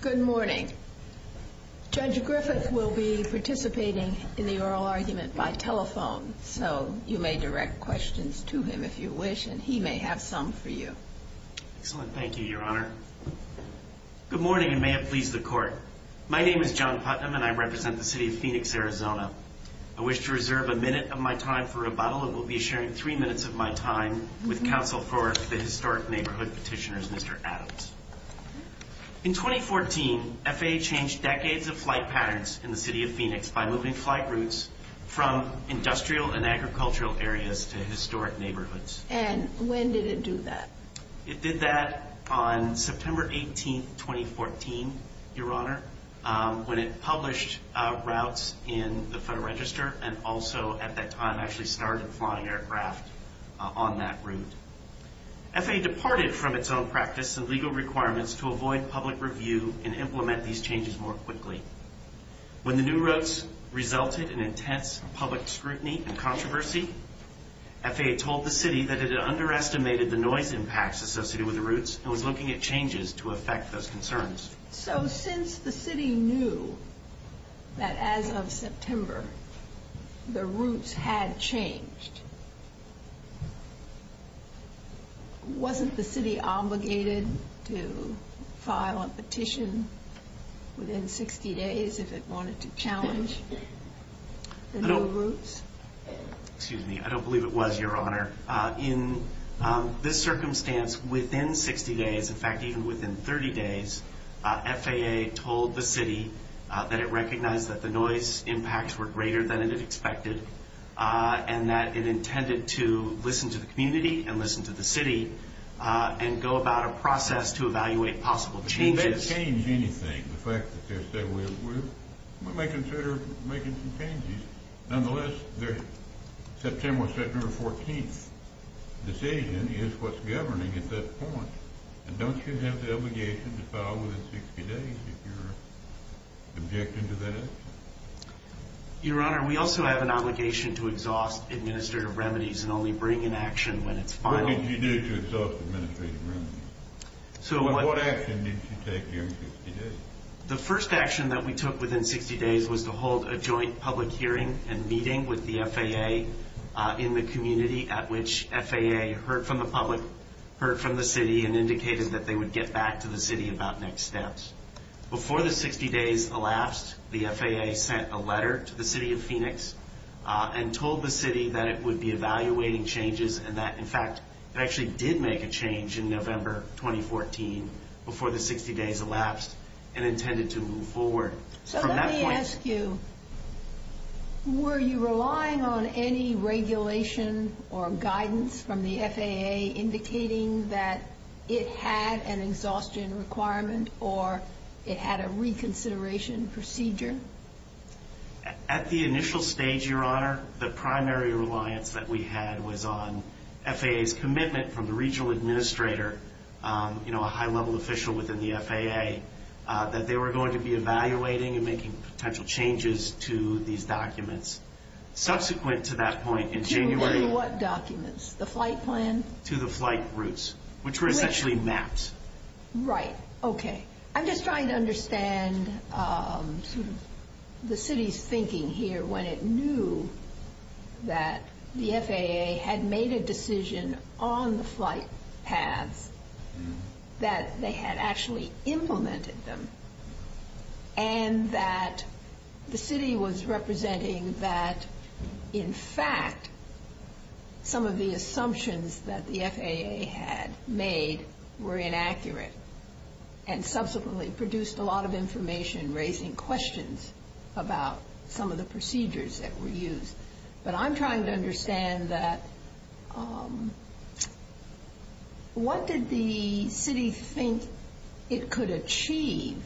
Good morning. Judge Griffith will be participating in the oral argument by telephone so you may direct questions to him if you wish and he may have some for you. Good morning and may it please the court. My name is John Putnam and I represent the City of Phoenix, Arizona. I wish to reserve a minute of my time for rebuttal and will be sharing three minutes of my time with Council for the Historic Neighborhood petitioner, Mr. Adams. In 2014, FAA changed decades of flight patterns in the City of Phoenix by moving flight routes from industrial and agricultural areas to historic neighborhoods. And when did it do that? It did that on September 18, 2014, Your Honor, when it published routes in the Federal Register and also at that time actually started flying aircraft on that route. FAA departed from its own practice and legal requirements to avoid public review and implement these changes more quickly. When the new routes resulted in intense public scrutiny and controversy, FAA told the City that it had underestimated the noise impacts associated with the routes and was looking at changes to affect those concerns. So since the City knew that as of September the routes had changed, wasn't the City obligated to file a petition within 60 days if it wanted to challenge the new routes? Excuse me, I don't believe it was, Your Honor. In this circumstance, within 60 days, in fact even within 30 days, FAA told the City that it recognized that the noise impacts were greater than it expected and that it intended to listen to the community and listen to the City and go about a process to evaluate possible changes. It didn't change anything, the fact that they said we're making some changes. Nonetheless, their September 14 decision is what's governing at this point. Don't you have the obligation to file within 60 days if you're objecting to that action? Your Honor, we also have an obligation to exhaust administrative remedies and only bring in action when it's final. So what action did you take during 60 days? The first action that we took within 60 days was to hold a joint public hearing and meeting with the FAA in the community at which FAA heard from the public, heard from the City and indicated that they would get back to the City about next steps. Before the 60 days elapsed, the FAA sent a letter to the City of Phoenix and told the City that it would be evaluating changes and that, in fact, it actually did make a change in November 2014 before the 60 days elapsed and intended to move forward. So let me ask you, were you relying on any regulation or guidance from the FAA indicating that it had an exhaustion requirement or it had a reconsideration procedure? At the initial stage, Your Honor, the primary reliance that we had was on FAA's commitment from the regional administrator, you know, a high-level official within the FAA, that they were going to be evaluating and making potential changes to these documents. Subsequent to that point in January... To what documents? The flight plan? To the flight routes, which were essentially maps. Right. Okay. I'm just trying to understand the City's thinking here when it knew that the FAA had made a decision on the flight path that they had actually implemented them and that the City was representing that, in fact, some of the assumptions that the FAA had made were inaction. And subsequently produced a lot of information raising questions about some of the procedures that were used. But I'm trying to understand what did the City think it could achieve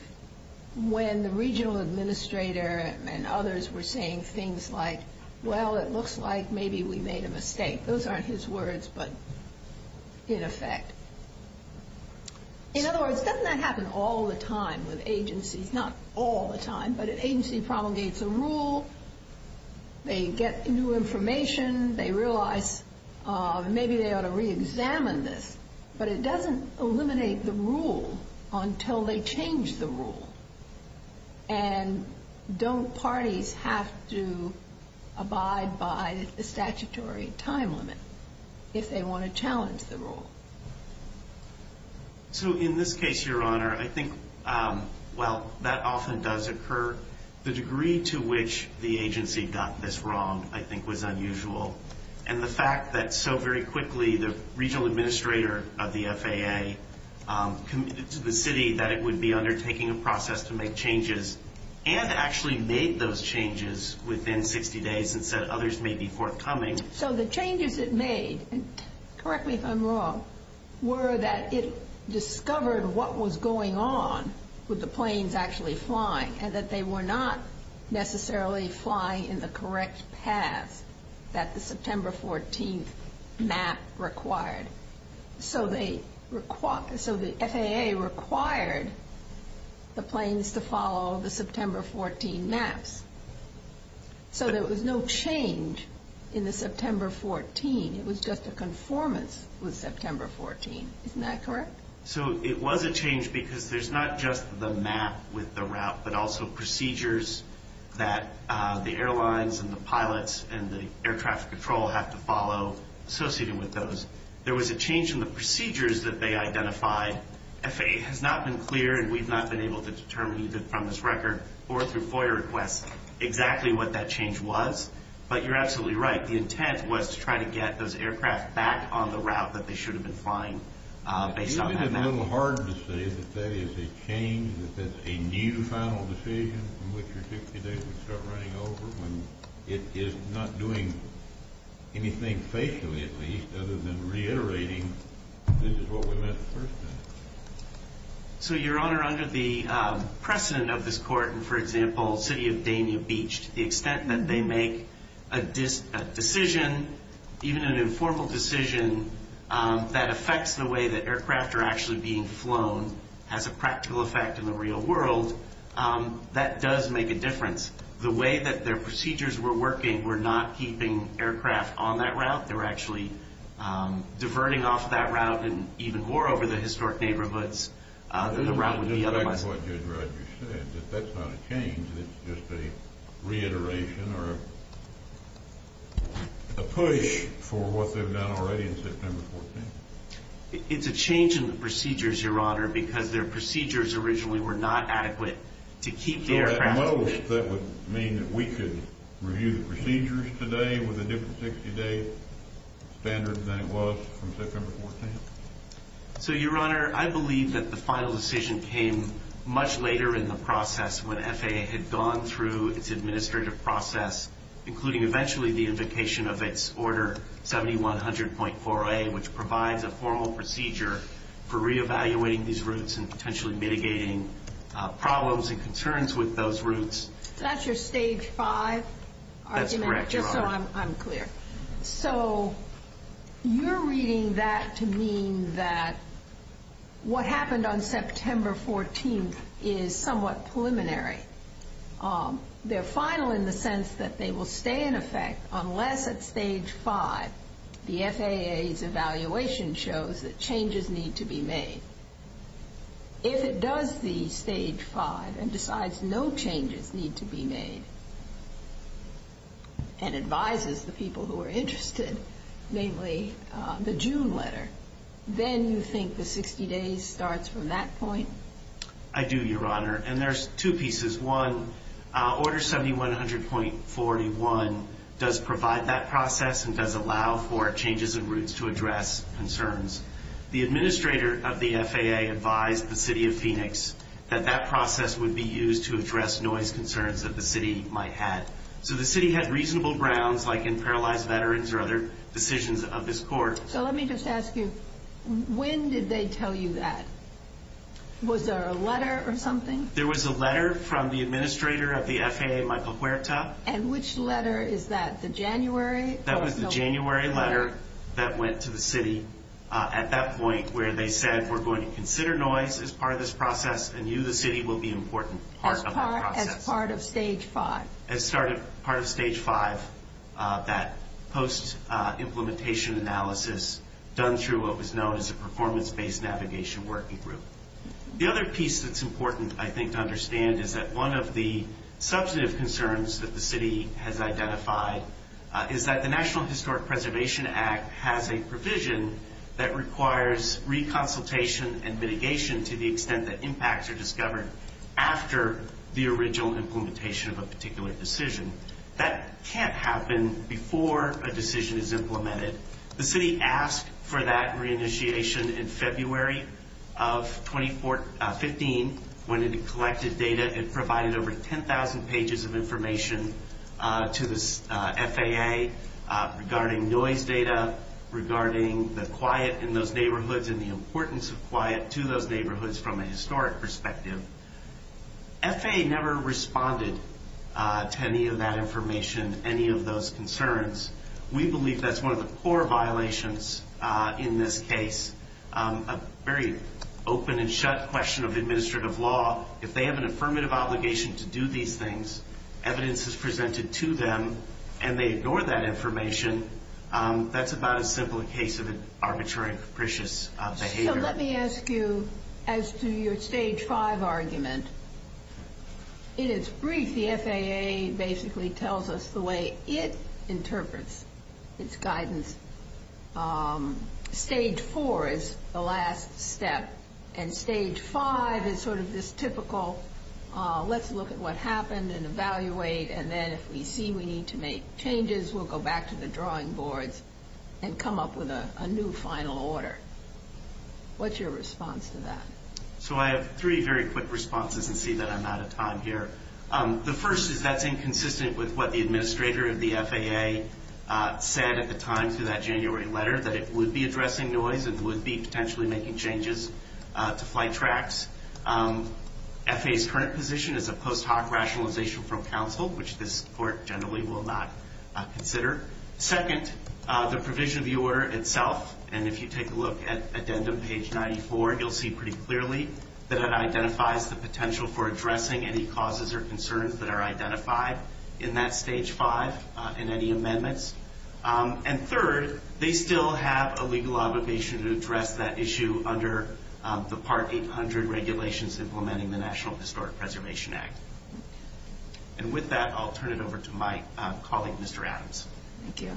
when the regional administrator and others were saying things like, well, it looks like maybe we made a mistake. Those aren't his words, but in effect. In other words, doesn't that happen all the time with agencies? Not all the time, but an agency promulgates a rule, they get new information, they realize maybe they ought to reexamine this. But it doesn't eliminate the rule until they change the rule. And don't parties have to abide by the statutory time limit if they want to challenge the rule? So in this case, Your Honor, I think while that often does occur, the degree to which the agency got this wrong I think was unusual. And the fact that so very quickly the regional administrator of the FAA committed to the City that it would be undertaking a process to make changes and actually made those changes within 60 days instead of others maybe forthcoming. So the changes it made, correct me if I'm wrong, were that it discovered what was going on with the planes actually flying and that they were not necessarily flying in the correct path that the September 14th map required. So the FAA required the planes to follow the September 14th maps. So there was no change in the September 14th. It was just a conformance with September 14th. Isn't that correct? So it was a change because there's not just the map with the route but also procedures that the airlines and the pilots and the air traffic patrol have to follow associating with those. There was a change in the procedures that they identified. The FAA has not been clear and we've not been able to determine from this record or through FOIA requests exactly what that change was. But you're absolutely right. The intent was to try to get those aircraft back on the route that they should have been flying. I think it's a little hard to say that that is a change, that that's a new final decision in which your 60 days would start running over. And it is not doing anything, faithfully at least, other than reiterating this is what we meant at first. So, Your Honor, under the precedent of this court and, for example, City of Damien Beach, the extent that they make a decision, even an informal decision, that affects the way that aircraft are actually being flown has a practical effect in the real world, that does make a difference. The way that their procedures were working were not keeping aircraft on that route. They were actually diverting off that route and even more over the historic neighborhoods than the route would be otherwise. I think that's what Judge Rogers said, that that's not a change. It's just a reiteration or a push for what they've done already in September 14th. It's a change in the procedures, Your Honor, because their procedures originally were not adequate to keep the aircraft. Do you know if that would mean that we could review the procedures today with a different 60-day standard than it was from September 14th? So, Your Honor, I believe that the final decision came much later in the process when FAA had gone through its administrative process, including eventually the invocation of its Order 7100.40A, which provides a formal procedure for reevaluating these routes and potentially mitigating problems and concerns with those routes. Is that your Stage 5 argument? That's correct, Your Honor. Just so I'm clear. So, you're reading that to mean that what happened on September 14th is somewhat preliminary. They're final in the sense that they will stay in effect unless at Stage 5 the FAA's evaluation shows that changes need to be made. If it does be Stage 5 and decides no changes need to be made and advises the people who are interested, namely the June letter, then you think the 60 days starts from that point? I do, Your Honor. And there's two pieces. One, Order 7100.41 does provide that process and does allow for changes of routes to address concerns. The administrator of the FAA advised the city of Phoenix that that process would be used to address noise concerns that the city might have. So, the city had reasonable grounds, like in paralyzed veterans or other decisions of this court. So, let me just ask you, when did they tell you that? Was there a letter or something? There was a letter from the administrator of the FAA, Michael Huerta. And which letter? Is that the January? That was the January letter that went to the city at that point where they said, we're going to consider noise as part of this process and you, the city, will be an important part of that process. As part of Stage 5? As part of Stage 5, that post-implementation analysis done through what was known as a performance-based navigation working group. The other piece that's important, I think, to understand is that one of the substantive concerns that the city has identified is that the National Historic Preservation Act has a provision that requires reconsultation and mitigation to the extent that impacts are discovered after the original implementation of a particular decision. That can't happen before a decision is implemented. The city asked for that reinitiation in February of 2015 when it collected data. It provided over 10,000 pages of information to the FAA regarding noise data, regarding the quiet in those neighborhoods and the importance of quiet to those neighborhoods from a historic perspective. FAA never responded to any of that information, any of those concerns. We believe that's one of the core violations in this case. A very open and shut question of administrative law, if they have an affirmative obligation to do these things, evidence is presented to them, and they ignore that information, that's about as simple a case of arbitrary and capricious behavior. Let me ask you, as to your Stage 5 argument, in its brief, the FAA basically tells us the way it interprets its guidance. Stage 4 is the last step. And Stage 5 is sort of this typical, let's look at what happened and evaluate, and then if we see we need to make changes, we'll go back to the drawing boards and come up with a new final order. What's your response to that? So I have three very quick responses and see that I'm out of time here. The first is that's inconsistent with what the administrator of the FAA said at the time to that January letter, that it would be addressing noise and would be potentially making changes to flight tracks. FAA's current position is a post hoc rationalization from counsel, which this court generally will not consider. Second, the provision of the order itself, and if you take a look at addendum page 94, you'll see pretty clearly that it identifies the potential for addressing any causes or concerns that are identified in that Stage 5 in any amendments. And third, they still have a legal obligation to address that issue under the Part 800 regulations implementing the National Historic Preservation Act. And with that, I'll turn it over to my colleague, Mr. Adams. Thank you.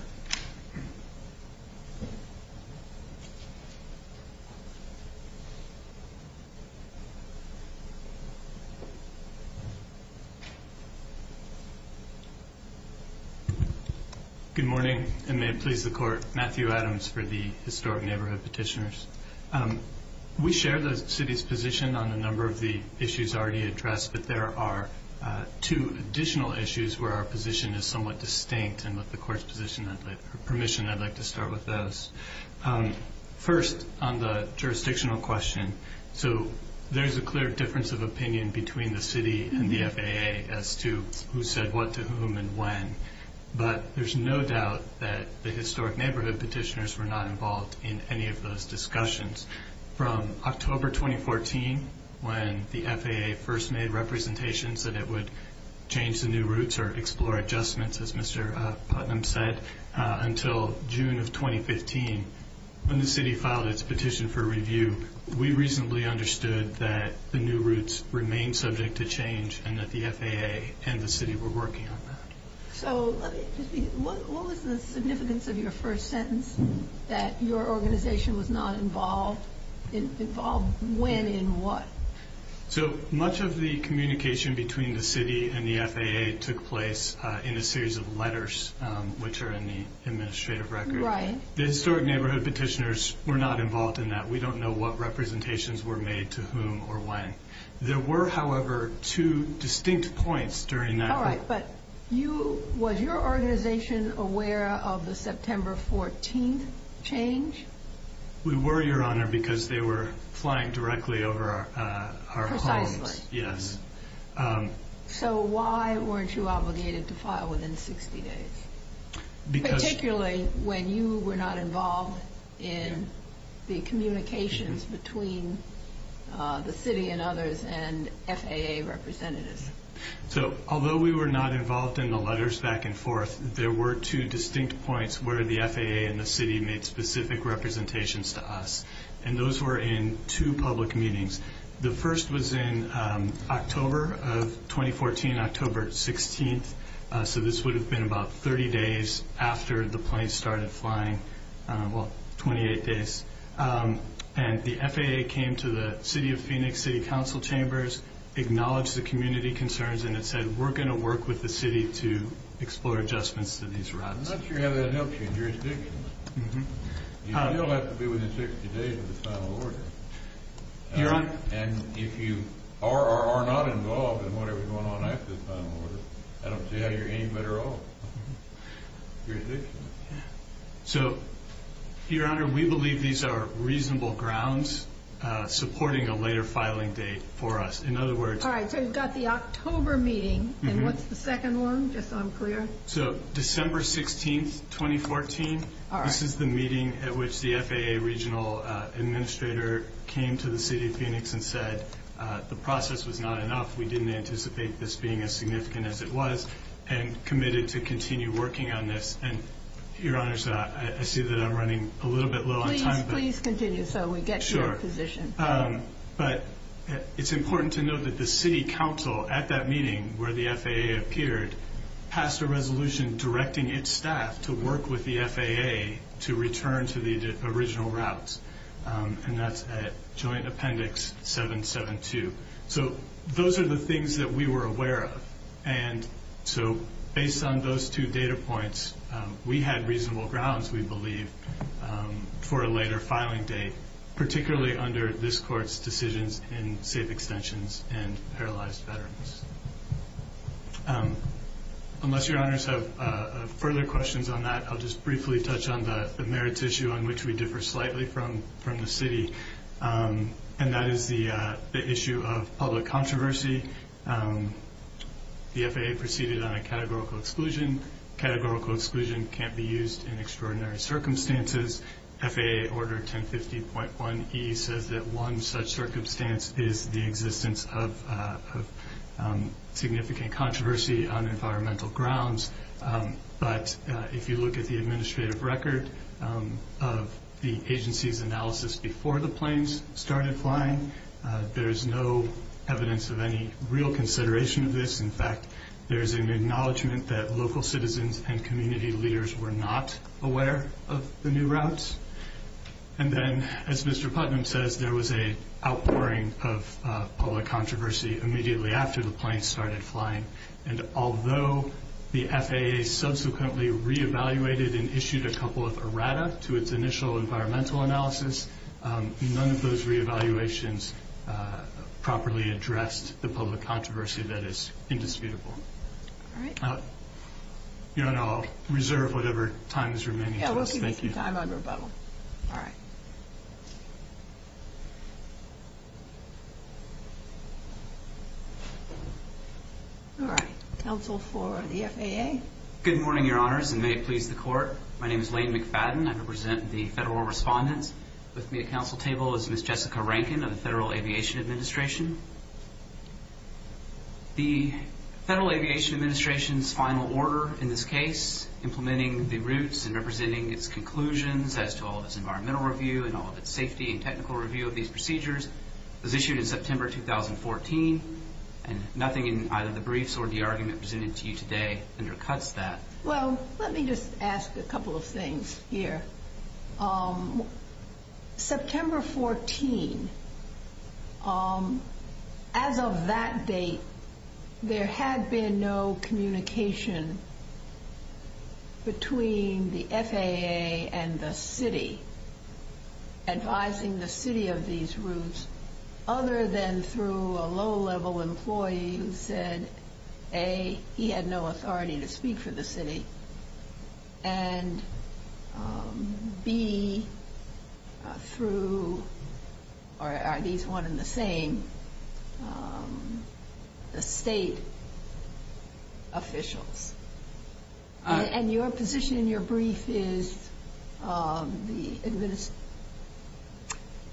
Good morning, and may it please the court. Matthew Adams for the Historic Neighborhood Petitioners. We share the city's position on a number of the issues already addressed, but there are two additional issues where our position is somewhat distinct, and with the court's permission, I'd like to start with those. First, on the jurisdictional question. So there's a clear difference of opinion between the city and the FAA as to who said what to whom and when, but there's no doubt that the Historic Neighborhood Petitioners were not involved in any of those discussions. From October 2014, when the FAA first made representations that it would change the new routes or explore adjustments, as Mr. Putnam said, until June of 2015, when the city filed its petition for review, we reasonably understood that the new routes remained subject to change and that the FAA and the city were working on that. So let me just see. What was the significance of your first sentence, that your organization was not involved? Involved when and what? So much of the communication between the city and the FAA took place in a series of letters, which are in the administrative record. Right. The Historic Neighborhood Petitioners were not involved in that. We don't know what representations were made to whom or when. There were, however, two distinct points during that. All right, but was your organization aware of the September 14th change? We were, Your Honor, because they were flying directly over our homes. Precisely. Yes. So why weren't you obligated to file within 60 days? Particularly when you were not involved in the communications between the city and others and FAA representatives. So although we were not involved in the letters back and forth, there were two distinct points where the FAA and the city made specific representations to us, and those were in two public meetings. The first was in October of 2014, October 16th, so this would have been about 30 days after the planes started flying, well, 28 days. And the FAA came to the City of Phoenix City Council Chambers, acknowledged the community concerns, and it said, we're going to work with the city to explore adjustments to these routes. I'm not sure how that helps your jurisdiction. You still have to be within 60 days of the final order. And if you are or are not involved in whatever's going on after the final order, do you have your hand up at all? So, Your Honor, we believe these are reasonable grounds supporting a later filing date for us. In other words, All right, so you've got the October meeting, and what's the second one, just unclear? So December 16th, 2014. All right. This is the meeting at which the FAA regional administrator came to the City of Phoenix and said, the process was not enough, we didn't anticipate this being as significant as it was, and committed to continue working on this. And, Your Honor, I see that I'm running a little bit low on time. Please continue so we get to your position. Sure. But it's important to note that the city council, at that meeting where the FAA appeared, passed a resolution directing its staff to work with the FAA to return to the original routes, and that's at Joint Appendix 772. So those are the things that we were aware of. And so based on those two data points, we had reasonable grounds, we believe, for a later filing date, particularly under this court's decisions in safe extensions and paralyzed veterans. Unless Your Honor has further questions on that, I'll just briefly touch on the merits issue on which we differ slightly from the city, and that is the issue of public controversy. The FAA proceeded on a categorical exclusion. Categorical exclusion can't be used in extraordinary circumstances. FAA Order 1050.1E says that one such circumstance is the existence of significant controversy on environmental grounds. But if you look at the administrative record of the agency's analysis before the planes started flying, there's no evidence of any real consideration of this. In fact, there's an acknowledgment that local citizens and community leaders were not aware of the new routes. And then, as Mr. Putnam says, there was an outpouring of public controversy immediately after the planes started flying. And although the FAA subsequently reevaluated and issued a couple of errata to its initial environmental analysis, none of those reevaluations properly addressed the public controversy that is indisputable. Your Honor, I'll reserve whatever time is remaining. Yeah, we'll give you some time on rebuttal. All right. All right. Counsel for the FAA. Good morning, Your Honors, and may it please the Court. My name is Lane McFadden. I represent the federal respondents. With me at counsel table is Ms. Jessica Rankin of the Federal Aviation Administration. The Federal Aviation Administration's final order in this case, implementing the routes and representing its conclusions as to all of its environmental review and all of its safety and technical review of these procedures, was issued in September 2014, and nothing in either the briefs or the argument presented to you today undercuts that. Well, let me just ask a couple of things here. September 14, as of that date, there had been no communication between the FAA and the city advising the city of these routes other than through a low-level employee who said, A, he had no authority to speak for the city, and B, through, or at least one in the same, the state officials. And your position in your brief is the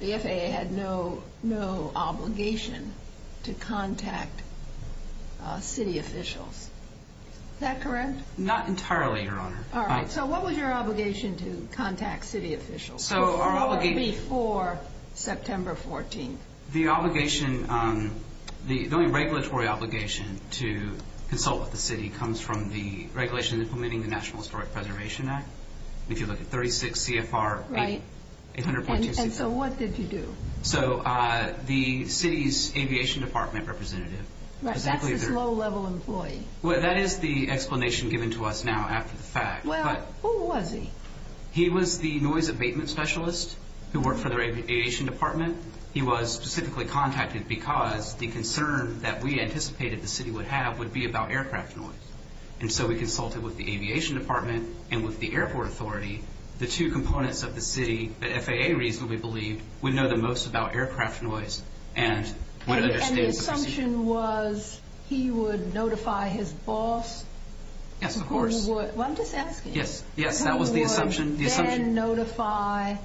FAA had no obligation to contact city officials. Is that correct? Not entirely, Your Honor. All right. So what was your obligation to contact city officials before September 14? The only regulatory obligation to consult with the city comes from the regulations implementing the National Historic Preservation Act, which is under 36 CFR 846. And so what did you do? So the city's aviation department representative. Right. That's a low-level employee. Well, that is the explanation given to us now after the fact. Well, who was he? He was the noise abatement specialist who worked for their aviation department. He was specifically contacted because the concern that we anticipated the city would have would be about aircraft noise. And so we consulted with the aviation department and with the airport authority, the two components of the city that FAA reasonably believed would know the most about aircraft noise. And the assumption was he would notify his boss? Yes, of course. Well, I'm just asking. Yes, that was the assumption. He would then notify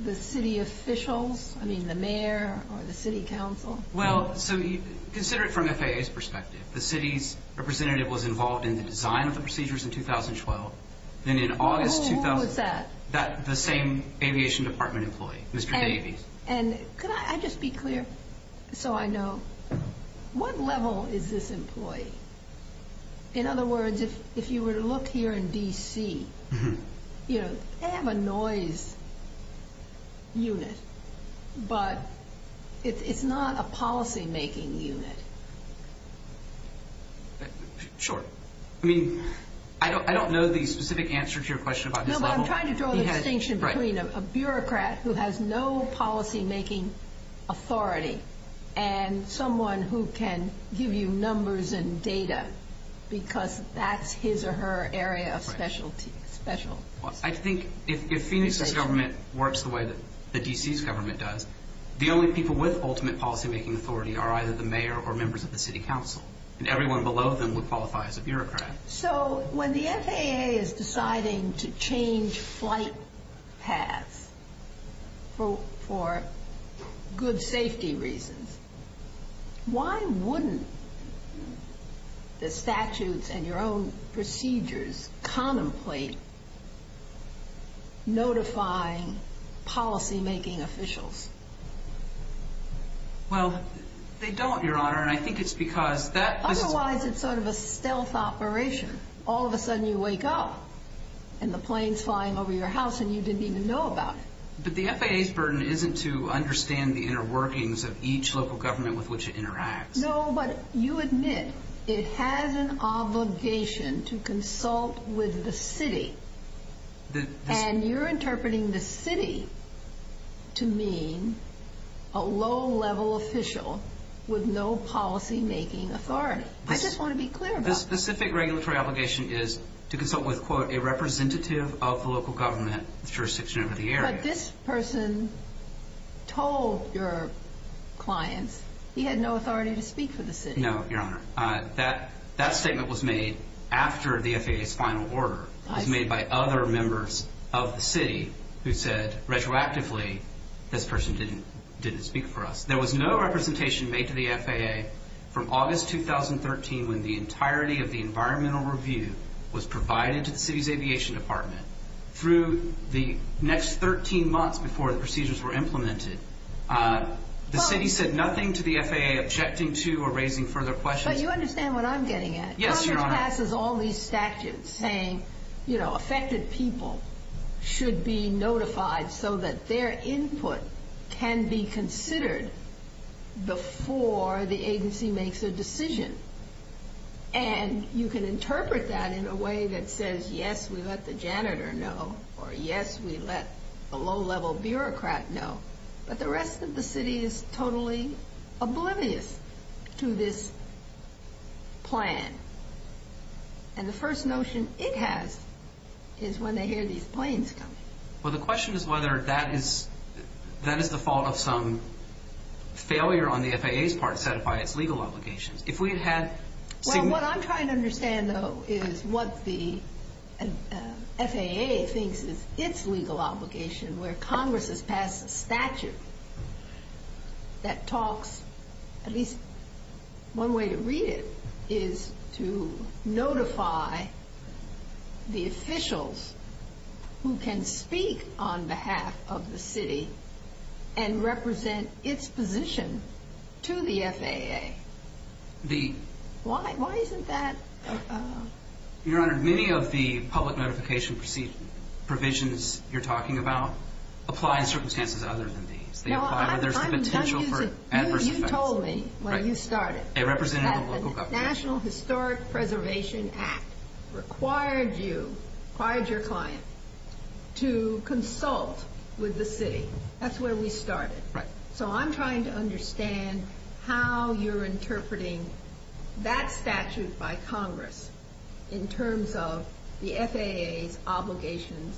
the city officials, I mean, the mayor or the city council? Well, so consider it from FAA's perspective. The city's representative was involved in the design of the procedures in 2012, and in August 2000... Who was that? The same aviation department employee, Mr. Davies. And could I just be clear so I know? What level is this employee? In other words, if you were to look here in D.C., they have a noise unit, but it's not a policymaking unit. Sure. I mean, I don't know the specific answer to your question. No, but I'm trying to draw the distinction between a bureaucrat who has no policymaking authority and someone who can give you numbers and data because that's his or her area of specialty. I think if Phoenix's government works the way that D.C.'s government does, the only people with ultimate policymaking authority are either the mayor or members of the city council, and everyone below them would qualify as a bureaucrat. So when the FAA is deciding to change flight paths for good safety reasons, why wouldn't the statutes and your own procedures contemplate notifying policymaking officials? Well, they don't, Your Honor, and I think it's because that's... It's self-operation. All of a sudden you wake up and the plane's flying over your house and you didn't even know about it. But the FAA's burden isn't to understand the inner workings of each local government with which it interacts. No, but you admit it has an obligation to consult with the city, and you're interpreting the city to mean a low-level official with no policymaking authority. I just want to be clear about that. The specific regulatory obligation is to consult with, quote, a representative of the local government jurisdiction over the area. But this person told your client he had no authority to speak for the city. No, Your Honor. That statement was made after the FAA's final order. It was made by other members of the city who said retroactively this person didn't speak for us. There was no representation made to the FAA from August 2013 when the entirety of the environmental review was provided to the city's aviation department. Through the next 13 months before the procedures were implemented, the city said nothing to the FAA, objecting to or raising further questions. But you understand what I'm getting at. Yes, Your Honor. Congress passes all these statutes saying, you know, affected people should be notified so that their input can be considered before the agency makes a decision. And you can interpret that in a way that says, yes, we let the janitor know, or yes, we let the low-level bureaucrat know. But the rest of the city is totally oblivious to this plan. And the first notion it has is when they hear these claims come. Well, the question is whether that is the fault of some failure on the FAA's part set by its legal obligation. If we had had to make... Well, what I'm trying to understand, though, is what the FAA thinks is its legal obligation where Congress has passed a statute that talks... At least one way to read it is to notify the officials who can speak on behalf of the city and represent its position to the FAA. Why isn't that... Your Honor, many of the public notification provisions you're talking about apply in circumstances other than these. They apply where there's a potential for adverse effects. You told me when you started that the National Historic Preservation Act required you, required your clients to consult with the city. That's where we started. Right. So I'm trying to understand how you're interpreting that statute by Congress in terms of the FAA's obligation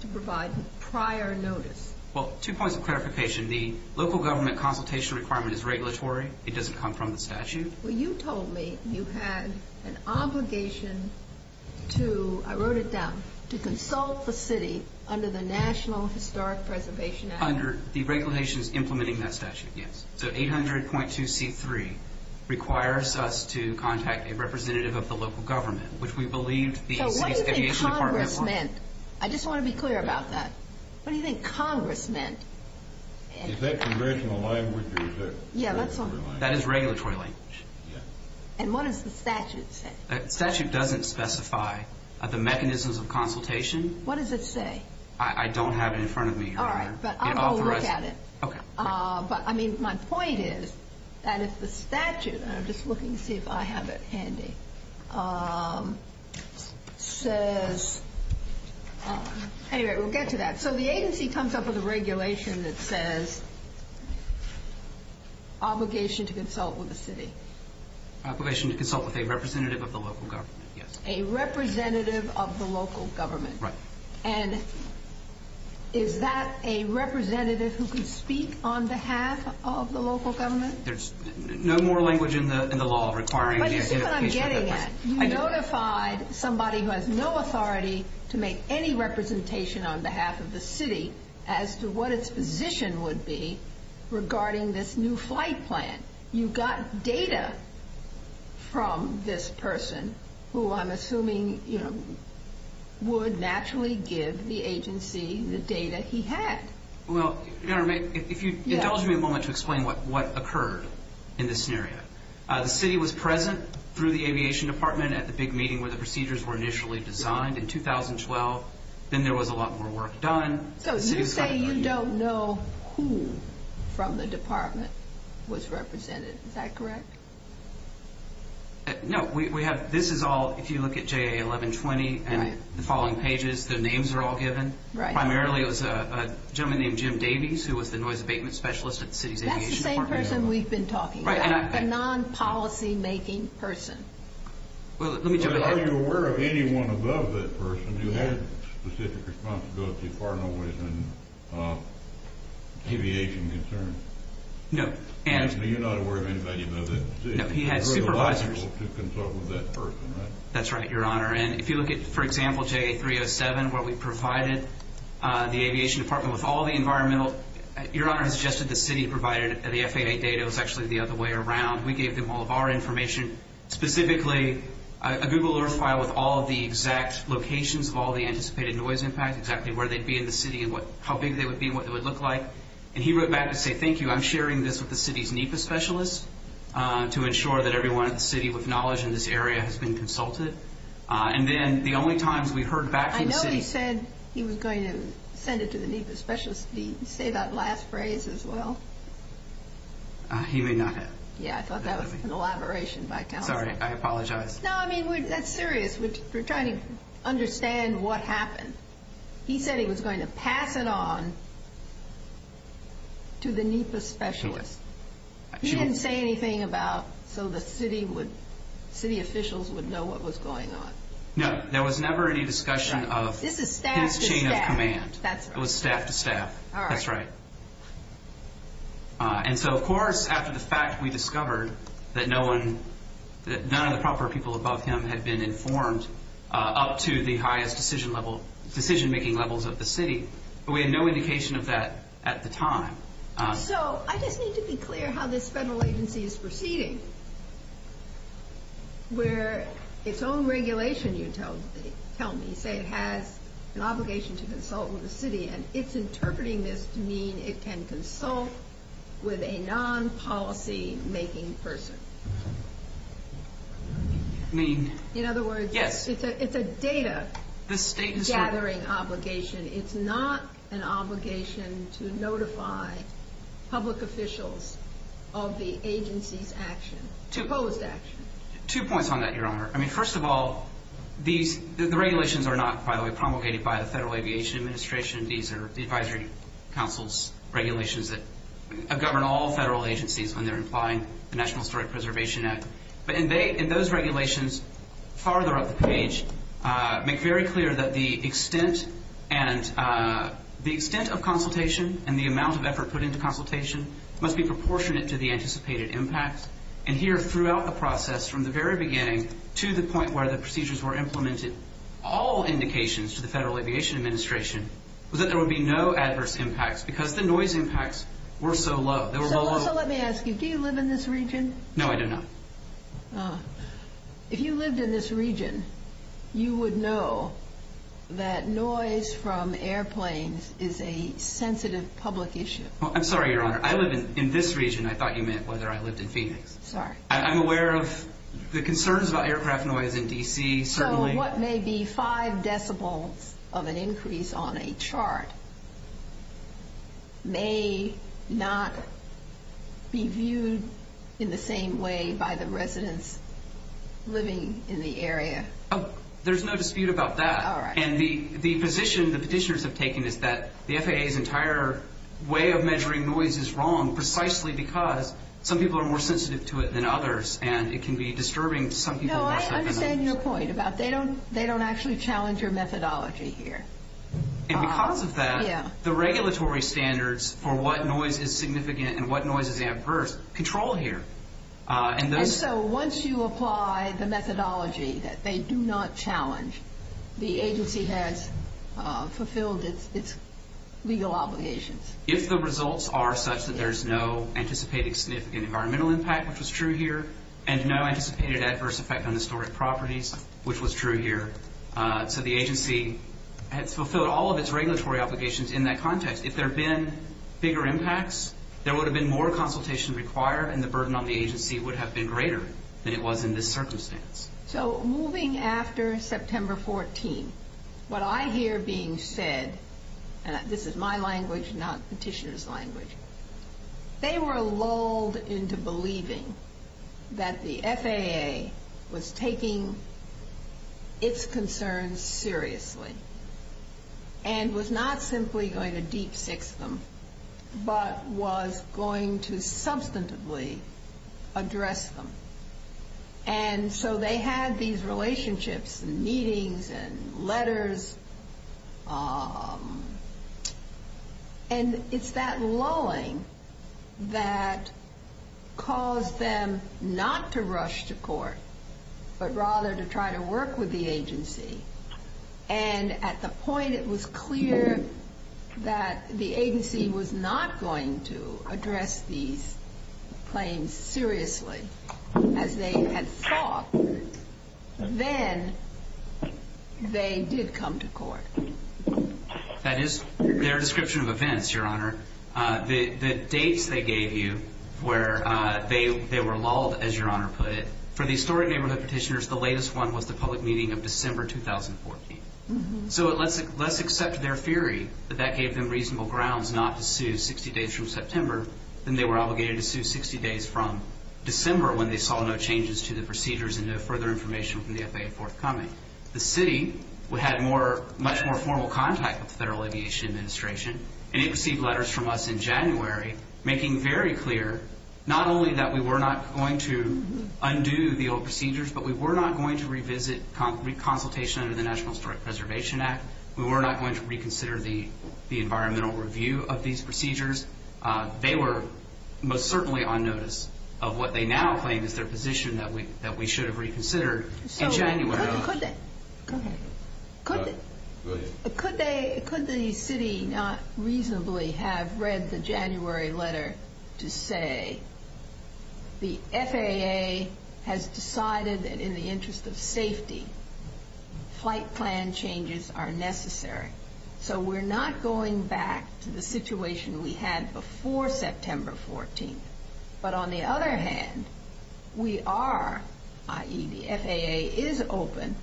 to provide prior notice. Well, two points of clarification. The local government consultation requirement is regulatory. It doesn't come from the statute. Well, you told me you had an obligation to, I wrote it down, to consult the city under the National Historic Preservation Act. The regulations implementing that statute, yes. So 800.2C3 requires us to contact a representative of the local government, which we believe the... So what do you think Congress meant? I just want to be clear about that. What do you think Congress meant? Is that conventional language or is that... That is regulatory language. And what does the statute say? The statute doesn't specify the mechanisms of consultation. What does it say? I don't have it in front of me. All right. But I'm going to look at it. Okay. But, I mean, my point is that if the statute, and I'm just looking to see if I have it handy, says... Anyway, we'll get to that. So the agency comes up with a regulation that says obligation to consult with the city. Obligation to consult with a representative of the local government, yes. A representative of the local government. Right. And is that a representative who can speak on behalf of the local government? There's no more language in the law requiring... But this is what I'm getting at. You notified somebody who has no authority to make any representation on behalf of the city as to what its position would be regarding this new flight plan. You got data from this person who I'm assuming, you know, would naturally give the agency the data he had. Well, if you indulge me a moment to explain what occurred in this scenario. The city was present through the aviation department at the big meeting where the procedures were initially designed in 2012. Then there was a lot more work done. So you say you don't know who from the department was represented. Is that correct? No. This is all, if you look at JA 1120 and the following pages, the names are all given. Primarily it was a gentleman named Jim Davies who was the noise abatement specialist at the city's aviation department. That's the same person we've been talking about. The non-policy-making person. Are you aware of anyone above that person who had specific responsibility partnered with an aviation concern? No. So you're not aware of anybody above that person? No. He had supervisors. He was eligible to consult with that person, right? That's right, Your Honor. And if you look at, for example, JA 307 where we provided the aviation department with all the environmental, Your Honor has suggested the city provided the FAA data. It was actually the other way around. We gave them all of our information, specifically a Google Earth file with all of the exact locations of all the anticipated noise impacts, exactly where they'd be in the city and how big they would be and what they would look like. And he wrote back to say, thank you, I'm sharing this with the city's NEPA specialist to ensure that everyone in the city with knowledge in this area has been consulted. And then the only times we heard back from the city. I know he said he was going to send it to the NEPA specialist. Did he say that last phrase as well? He may not have. Yeah, I thought that was an elaboration by Kelly. Sorry, I apologize. No, I mean, that's serious. We're trying to understand what happened. He said he was going to pass it on to the NEPA specialist. He didn't say anything about so the city officials would know what was going on. No, there was never any discussion of his chain of command. It was staff to staff. That's right. And so, of course, after the fact, we discovered that none of the proper people above him had been informed up to the highest decision-making levels of the city. But we had no indication of that at the time. So I just need to be clear how this federal agency is proceeding. Where its own regulation, you tell me, say it has an obligation to consult with the city and its interpreting this means it can consult with a non-policy-making person. In other words, it's a data-gathering obligation. It's not an obligation to notify public officials of the agency's action, proposed action. Two points on that, Your Honor. I mean, first of all, the regulations are not, by the way, promulgated by the Federal Aviation Administration. These are the advisory council's regulations that govern all federal agencies when they're applying the National Historic Preservation Act. But in those regulations, farther up the page, make very clear that the extent of consultation and the amount of effort put into consultation must be proportionate to the anticipated impact. And here, throughout the process, from the very beginning to the point where the procedures were implemented, all indications to the Federal Aviation Administration was that there would be no adverse impacts because the noise impacts were so low. They were low, low, low. So let me ask you, do you live in this region? No, I do not. Ah. If you lived in this region, you would know that noise from airplanes is a sensitive public issue. I'm sorry, Your Honor. I live in this region. I thought you meant whether I lived in Phoenix. Sorry. I'm aware of the concerns about aircraft noise in D.C. So what may be five decibels of an increase on a chart may not be viewed in the same way by the residents living in the area. Oh, there's no dispute about that. All right. And the position the petitioners have taken is that the FAA's entire way of measuring noise is wrong precisely because some people are more sensitive to it than others and it can be disturbing to some people. No, I understand your point about they don't actually challenge your methodology here. And because of that, the regulatory standards for what noise is significant and what noise is adverse control here. And so once you apply the methodology that they do not challenge, the agency has fulfilled its legal obligations. If the results are such that there's no anticipated significant environmental impact, which was true here, and no anticipated adverse effect on historic properties, which was true here, so the agency has fulfilled all of its regulatory obligations in that context. If there had been bigger impacts, there would have been more consultation required and the burden on the agency would have been greater than it was in this circumstance. So moving after September 14, what I hear being said, and this is my language, not petitioner's language, they were lulled into believing that the FAA was taking its concerns seriously and was not simply going to de-fix them, but was going to substantively address them. And so they had these relationships and meetings and letters, and it's that lulling that caused them not to rush to court, but rather to try to work with the agency. And at the point it was clear that the agency was not going to address these claims seriously as they had thought, then they did come to court. That is their description of events, Your Honor. The dates they gave you where they were lulled, as Your Honor put it, for the historic neighborhood petitioners, the latest one was the public meeting of December 2014. So let's accept their theory that that gave them reasonable grounds not to sue 60 days from September, and they were obligated to sue 60 days from December when they saw no changes to the procedures and no further information from the FAA forthcoming. The city had much more formal contact with the Federal Aviation Administration, and it received letters from us in January making very clear not only that we were not going to undo the old procedures, but we were not going to revisit consultation under the National Historic Preservation Act. We were not going to reconsider the environmental review of these procedures. They were most certainly on notice of what they now claim is their position that we should have reconsidered in January. Could the city not reasonably have read the January letter to say the FAA has decided that in the interest of safety, flight plan changes are necessary. So we're not going back to the situation we had before September 14th. But on the other hand, we are, i.e., the FAA is open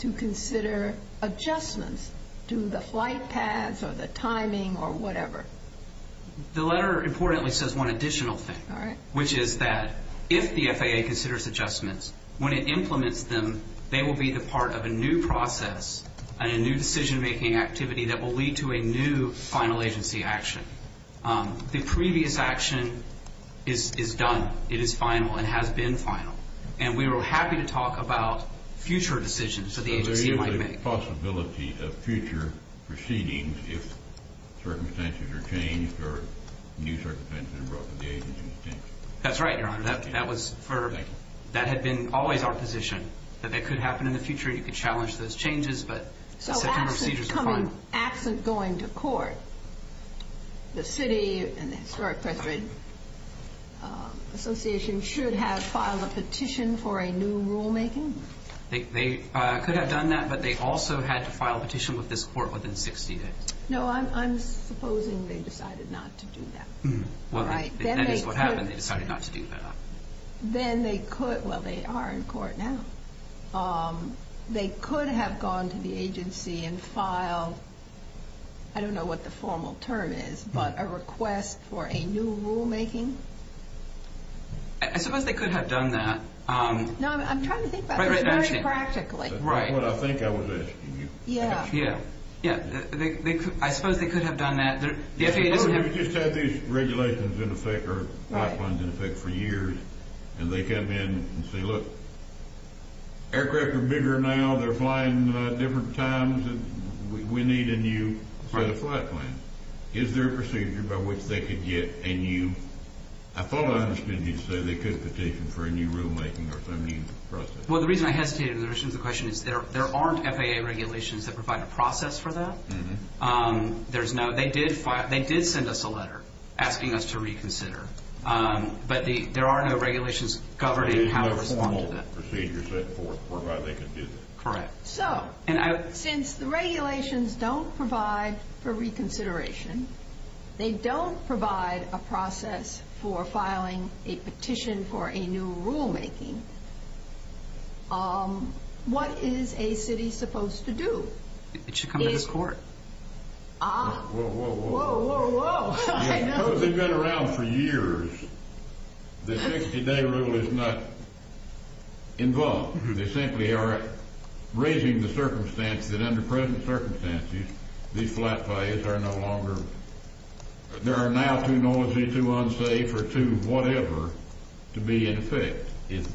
to consider adjustments to the flight paths or the timing or whatever. The letter importantly says one additional thing, which is that if the FAA considers adjustments, when it implements them, they will be the part of a new process and a new decision-making activity that will lead to a new final agency action. The previous action is done. It is final and has been final. And we were happy to talk about future decisions that the agency might make. There is a possibility of future proceedings if circumstances are changed or new circumstances are replicated. That's right, Your Honor. That had been always our position that that could happen in the future. You could challenge those changes, but certain procedures are final. If an act is going to court, the city and the Historic Preservation Association should have filed a petition for a new rulemaking? They could have done that, but they also had to file a petition with this court within 60 days. No, I'm supposing they decided not to do that. If that is what happened, they decided not to do that. Then they could. Well, they are in court now. They could have gone to the agency and filed, I don't know what the formal term is, but a request for a new rulemaking? I suppose they could have done that. No, I'm trying to think about it. Practically. Right. That's what I think I was asking you. Yeah. Yeah. I suppose they could have done that. We've just had these regulations in effect, or flight plans in effect for years, and they come in and say, look, aircraft are bigger now, they're flying at different times, we need a new set of flight plans. Is there a procedure by which they could get a new... I thought I understood you to say they could petition for a new rulemaking or some new process. Well, the reason I hesitated in relation to the question is there aren't FAA regulations that provide a process for that. There's no... They did send us a letter asking us to reconsider, but there are no regulations covering how to respond to that. Is there a formal procedure set forth for how they could do that? Correct. So, since the regulations don't provide for reconsideration, they don't provide a process for filing a petition for a new rulemaking, what is a city supposed to do? It should come to the court. Ah. Whoa, whoa, whoa. Whoa, whoa, whoa. I know. They've been around for years. The 60-day rule is not involved. They simply are raising the circumstance that under present circumstances, these flight plans are no longer... They are now too noisy, too unsafe, or too whatever to be in effect. Is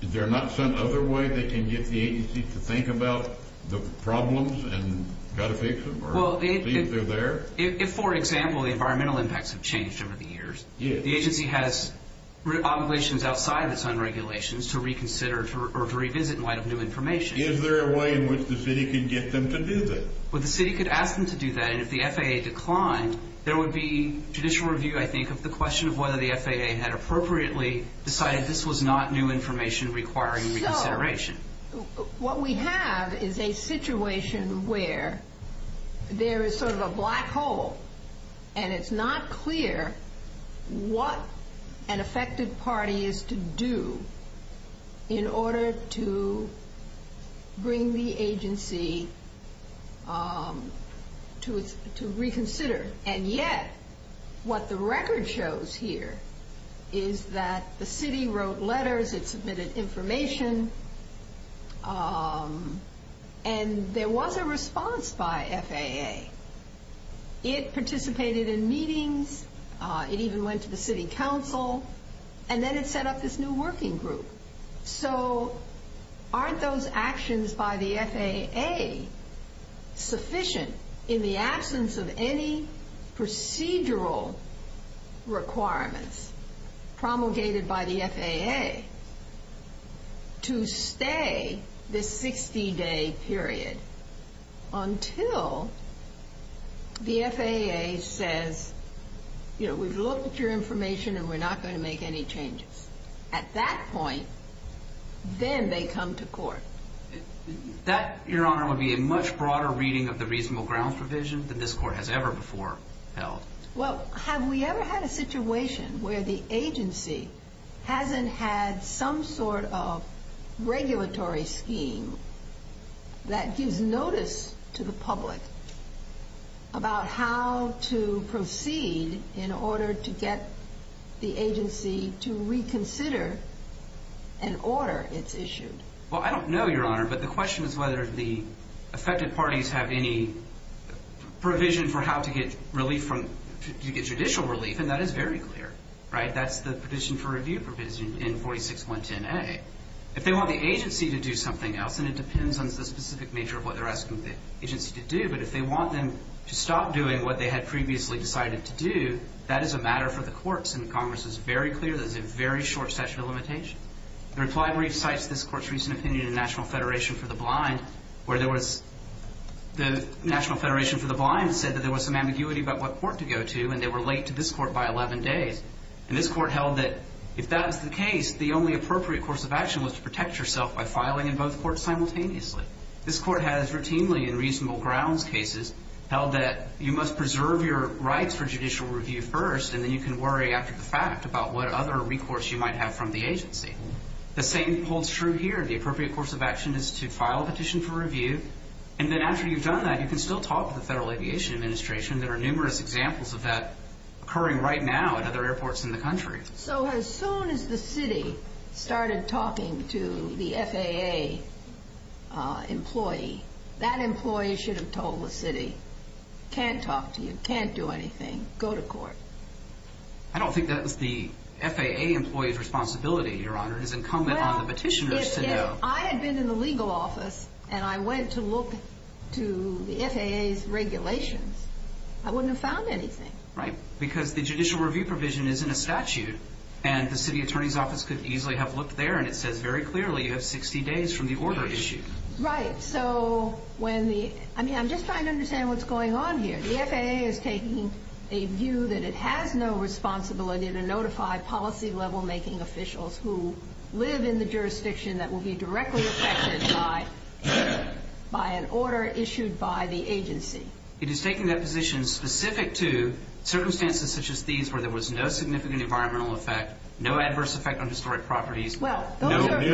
there not some other way they can get the agency to think about the problems and how to fix them? Well, the agency... See if they're there? If, for example, the environmental impacts have changed over the years... Yes. ...the agency has obligations outside of some regulations to reconsider or to revisit in light of new information... Is there a way in which the city could get them to do that? Well, the city could ask them to do that, and if the FAA declined, there would be judicial review, I think, of the question of whether the FAA had appropriately decided this was not new information requiring reconsideration. No. What we have is a situation where there is sort of a black hole, and it's not clear what an effective party is to do in order to bring the agency to reconsider. And yet, what the record shows here is that the city wrote letters. It submitted information, and there was a response by FAA. It participated in meetings. It even went to the city council, and then it set up this new working group. So, aren't those actions by the FAA sufficient in the absence of any procedural requirements promulgated by the FAA to stay this 60-day period until the FAA says, you know, we've looked at your information, and we're not going to make any changes? At that point, then they come to court. That, Your Honor, would be a much broader reading of the reasonable grounds provision that this court has ever before held. Well, have we ever had a situation where the agency hasn't had some sort of regulatory scheme that gives notice to the public about how to proceed in order to get the agency to reconsider an order it's issued? Well, I don't know, Your Honor, but the question is whether the effective parties have any provision for how to get relief from, to get judicial relief, and that is very clear. Right? That's the provision for review provision in 46-110A. If they want the agency to do something else, and it depends on the specific nature of what they're asking the agency to do, but if they want them to stop doing what they had previously decided to do, that is a matter for the courts, and Congress is very clear that it's a very short statute of limitation. The reply recites this court's recent opinion in National Federation for the Blind, where there was, the National Federation for the Blind said that there was some ambiguity about what court to go to, and they were late to this court by 11 days, and this court held that if that is the case, the only appropriate course of action was to protect yourself by filing in both courts simultaneously. This court has routinely, in reasonable grounds cases, held that you must preserve your rights for judicial review first, and then you can worry after the fact about what other recourse you might have from the agency. The same holds true here. The appropriate course of action is to file a petition for review, and then after you've done that, you can still talk to the Federal Aviation Administration. There are numerous examples of that occurring right now at other airports in the country. So as soon as the city started talking to the FAA employee, that employee should have told the city, can't talk to you, can't do anything, go to court. I don't think that was the FAA employee's responsibility, Your Honor. It was incumbent on the petitioners to know. Well, if I had been in the legal office, and I went to look to the FAA's regulations, I wouldn't have found anything. Right. Because the judicial review provision is in a statute, and the city attorney's office could easily have looked there, and it says very clearly, you have 60 days from the order issue. Right. So when the... I mean, I'm just trying to understand what's going on here. The FAA is taking a view that it has no responsibility to notify policy-level-making officials who live in the jurisdiction that will be directly affected by an order issued by the agency. It is taking that position specific to circumstances such as these where there was no significant environmental effect, no adverse effect on historic properties, no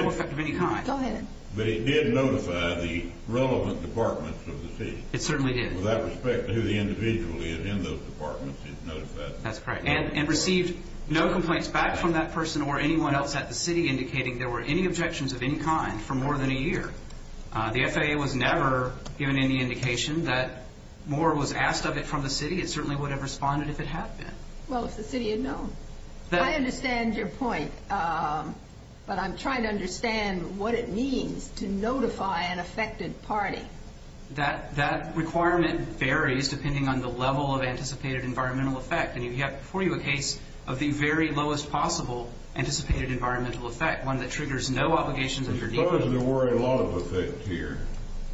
effect of any kind. Go ahead. But it did notify the relevant departments of the city. It certainly did. With that respect, who the individual is in those departments, it noticed that. That's correct. And received no complaints back from that person or anyone else at the city indicating there were any objections of any kind for more than a year. The FAA was never given any indication that more was asked of it from the city. It certainly would have responded if it had been. Well, if the city had known. I understand your point, but I'm trying to understand what it means to notify an affected party. That requirement varies depending on the level of anticipated environmental effect, and you have before you a case of the very lowest possible anticipated environmental effect, one that triggers no obligations of your department. Suppose there were a law of effect here.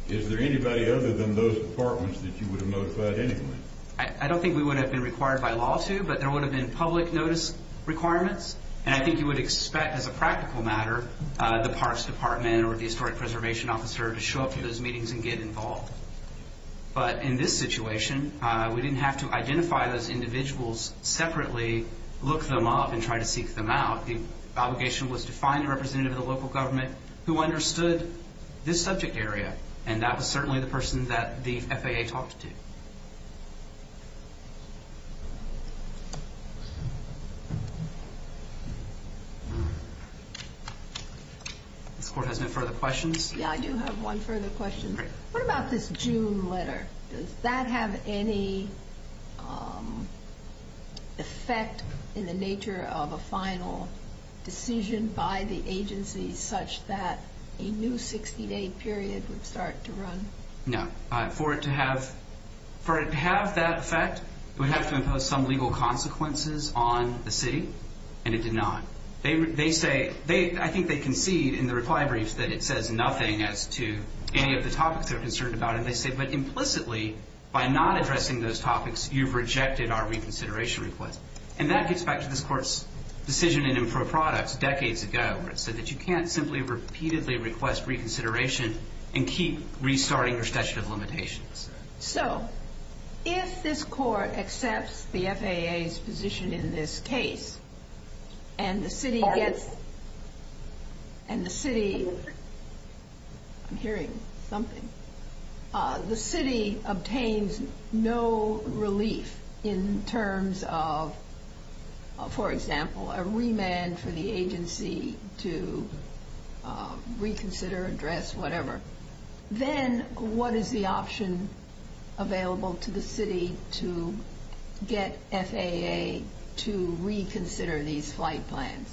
Is there anybody other than those departments that you would have notified anyway? I don't think we would have been required by law to, but there would have been public notice requirements, and I think you would expect, as a practical matter, the Parks Department or the Historic Preservation Officer to show up to those meetings and get involved. But in this situation, we didn't have to identify those individuals separately, look them up, and try to seek them out. The obligation was to find a representative of the local government who understood this subject area, and that was certainly the person that the FAA talked to. The court has no further questions? Yeah, I do have one further question. What about this June letter? Does that have any effect in the nature of a final decision by the agency such that a new 60-day period would start to run? No. For it to have that effect, we have to impose some legal consequences on the city, and it did not. I think they concede in the reply brief that it says nothing as to any of the topics they're addressing, but implicitly, by not addressing those topics, you've rejected our reconsideration request. And that gets back to this court's decision in improper products decades ago, where it said that you can't simply repeatedly request reconsideration and keep restarting recession of limitations. So, if this court accepts the FAA's position in this case, and the city gets... Pardon? And the city... I'm hearing something. The city obtains no relief in terms of, for example, a remand for the agency to reconsider, address, whatever. Then, what is the option available to the city to get FAA to reconsider these flight plans?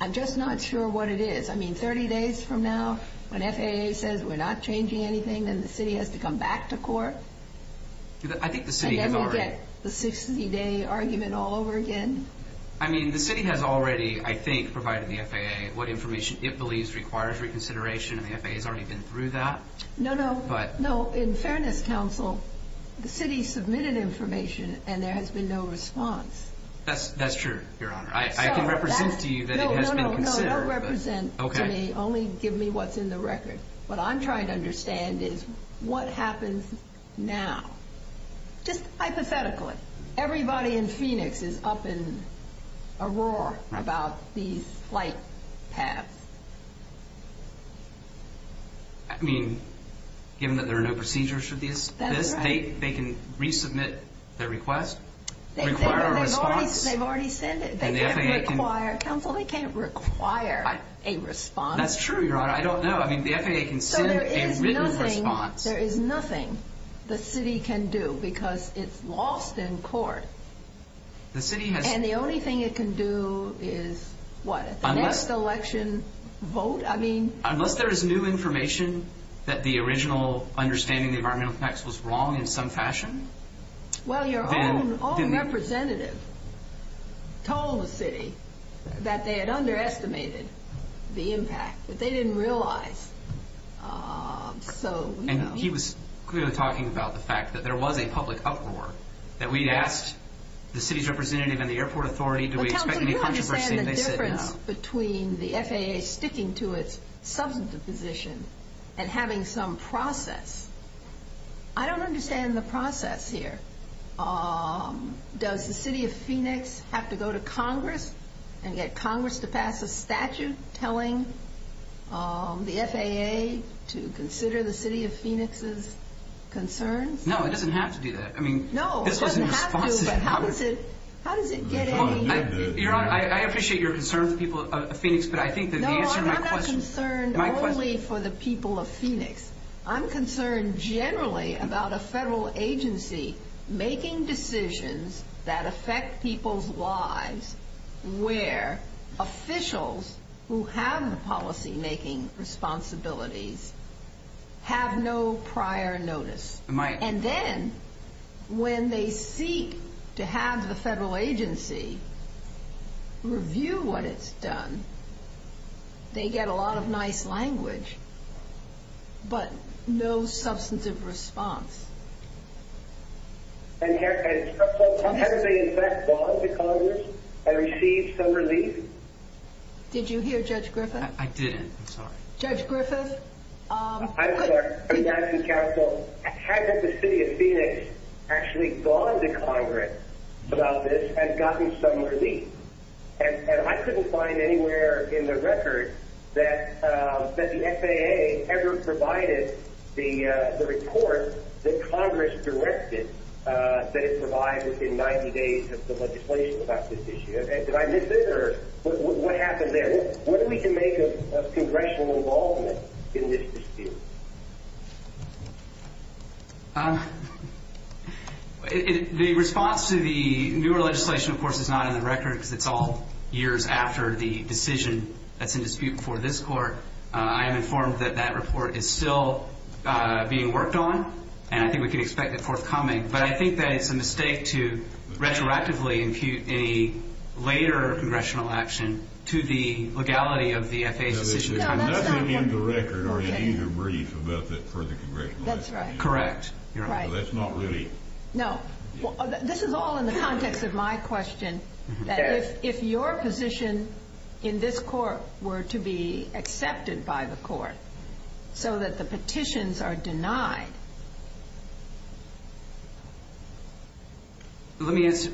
I'm just not sure what it is. I mean, 30 days from now, when FAA says we're not changing anything, and the city has to come back to court? I think the city has already... And then we'll get the 60-day argument all over again? I mean, the city has already, I think, provided the FAA what information it believes requires reconsideration, and the FAA has already been through that. No, no. But... No, in Fairness Council, the city submitted information, and there has been no response. That's true, Your Honor. I can represent to you that it has been considered. No, no, no. That represents... Okay. They only give me what's in the record. What I'm trying to understand is what happens now? Just hypothetically. Everybody in Phoenix is up in a roar about these flight paths. I mean, given that there are no procedures for this? That's right. They can resubmit their request? Require a response? They've already sent it. They can't require... And the FAA can... Counsel, they can't require a response. That's true, Your Honor. I don't know. I mean, the FAA can send a written response. So there is nothing... There is nothing the city can do, because it's lost in court. The city has... And the only thing it can do is, what, the next election vote? I mean... Unless there is new information that the original understanding of environmental effects was wrong in some fashion, then... Well, your own representative told the city that they had underestimated the impact, but they didn't realize. So... And he was clearly talking about the fact that there was a public uproar, that we asked the city's representative and the airport authority, do we expect... Counsel, do you understand the difference between the FAA sticking to its substantive position and having some process? I don't understand the process here. Does the city of Phoenix have to go to Congress and get Congress to pass a statute telling the FAA to consider the city of Phoenix's concerns? No, it doesn't have to do that. I mean... No, it doesn't have to, but how does it... How does it get anything... Your Honor, I appreciate your concern for the people of Phoenix, but I think that the answer to my question... No, I'm not concerned only for the people of Phoenix. I'm concerned generally about a federal agency making decisions that affect people's lives where officials who have policymaking responsibilities have no prior notice. And then when they seek to have the federal agency review what it's done, they get a lot of nice language, but no substantive response. And have they, in fact, gone to Congress and received some relief? Did you hear Judge Griffith? I didn't. I'm sorry. Judge Griffith... I'm sorry. I'm asking Counsel, has the city of Phoenix actually gone to Congress about this and gotten some relief? And I couldn't find anywhere in the record that the FAA ever provided the report that Congress directed that it provide within 90 days of the legislation about this issue. Did I miss it, or what happened there? What can we make of congressional involvement in this dispute? The response to the newer legislation, of course, is not in the record, because it's all years after the decision that's in dispute before this court. I am informed that that report is still being worked on, and I think we can expect it forthcoming. But I think that it's a mistake to retroactively impute a later congressional action to the legality of the FAA's decision. There's nothing in the record or any debrief about that for the congressional action. That's right. Correct. That's not relief. No. This is all in the context of my question. If your position in this court were to be accepted by the court so that the petitions are denied... Let me answer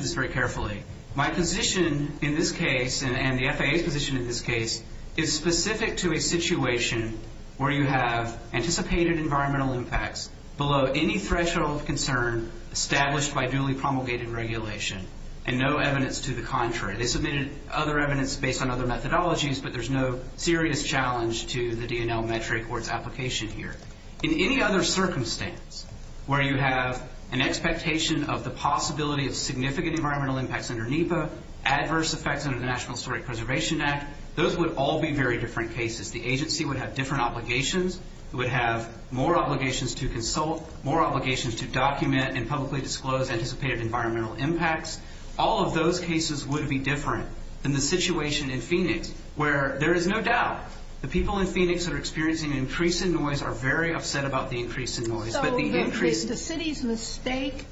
this very carefully. My position in this case, and the FAA's position in this case, is specific to a situation where you have anticipated environmental impacts below any threshold of concern established by duly promulgated regulation, and no evidence to the contrary. They submitted other evidence based on other methodologies, but there's no serious challenge to the DNL metric or its application here. In any other circumstance where you have an expectation of the possibility of significant environmental impacts under NEPA, adverse effects under the National Historic Preservation Act, those would all be very different cases. The agency would have different obligations. It would have more obligations to consult, more obligations to document and publicly disclose anticipated environmental impacts. All of those cases would be different than the situation in Phoenix, where there is no doubt the people in Phoenix that are experiencing increasing noise are very upset about the increase in noise. The city's mistake,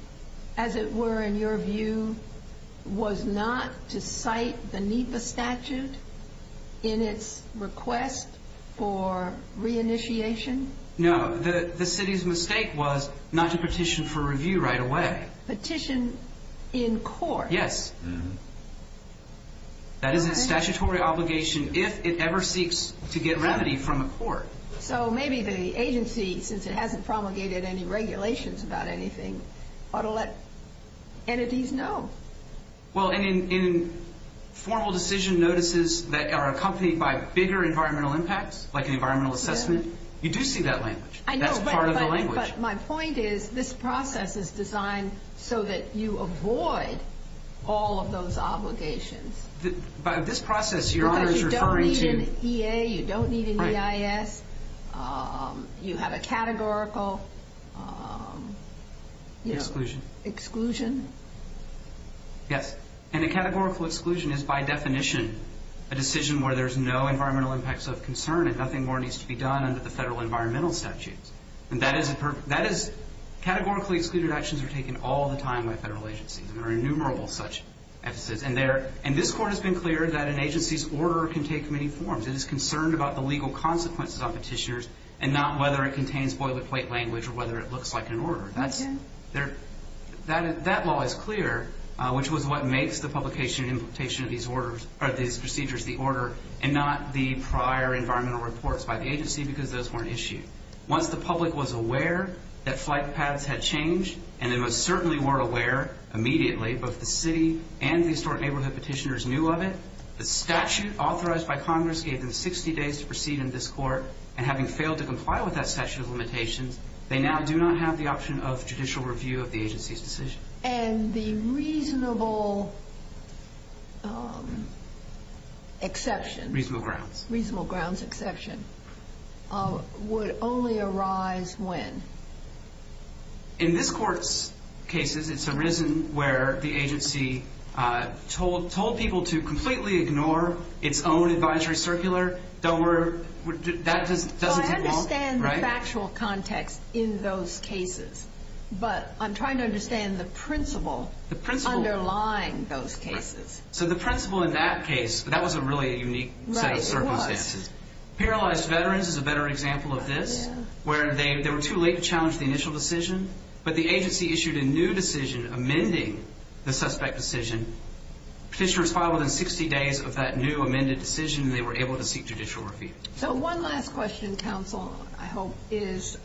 as it were, in your view, was not to cite the NEPA statute in its request for reinitiation? No. The city's mistake was not to petition for review right away. Petition in court. Yes. That is a statutory obligation if it ever seeks to get remedy from a court. Maybe the agency, since it hasn't promulgated any regulations about anything, ought to let entities know. In formal decision notices that are accompanied by bigger environmental impacts, like an environmental assessment, you do see that language. That's part of the language. My point is this process is designed so that you avoid all of those obligations. You don't need an EA. You don't need an EIS. You have a categorical exclusion. Yes, and a categorical exclusion is, by definition, a decision where there's no environmental impacts of concern and nothing more needs to be done under the federal environmental statute. Categorically excluded actions are taken all the time by federal agencies. There are innumerable such actions, and this court has been clear that an agency's order can take many forms. It is concerned about the legal consequences on petitioners and not whether it contains boilerplate language or whether it looks like an order. That law is clear, which was what makes the publication and implementation of these procedures the order and not the prior environmental reports by the agency because those were an issue. Once the public was aware that flight paths had changed, and they most certainly were aware immediately, both the city and the historic neighborhood petitioners knew of it, the statute authorized by Congress gave them 60 days to proceed in this court, and having failed to comply with that statute of limitations, they now do not have the option of judicial review of the agency's decision. And the reasonable exception? Reasonable grounds. Reasonable grounds exception would only arise when? In this court's cases, it's arisen where the agency told people to completely ignore its own advisory circular. That would be wrong, right? I understand the factual context in those cases, but I'm trying to understand the principle underlying those cases. So the principle in that case, that was a really unique set of circumstances. Right, it was. Paralyzed Veterans is a better example of this, where they were too late to challenge the initial decision, but the agency issued a new decision amending the suspect decision. Petitioners filed within 60 days of that new amended decision, and they were able to seek judicial review. So one last question, counsel, I hope, is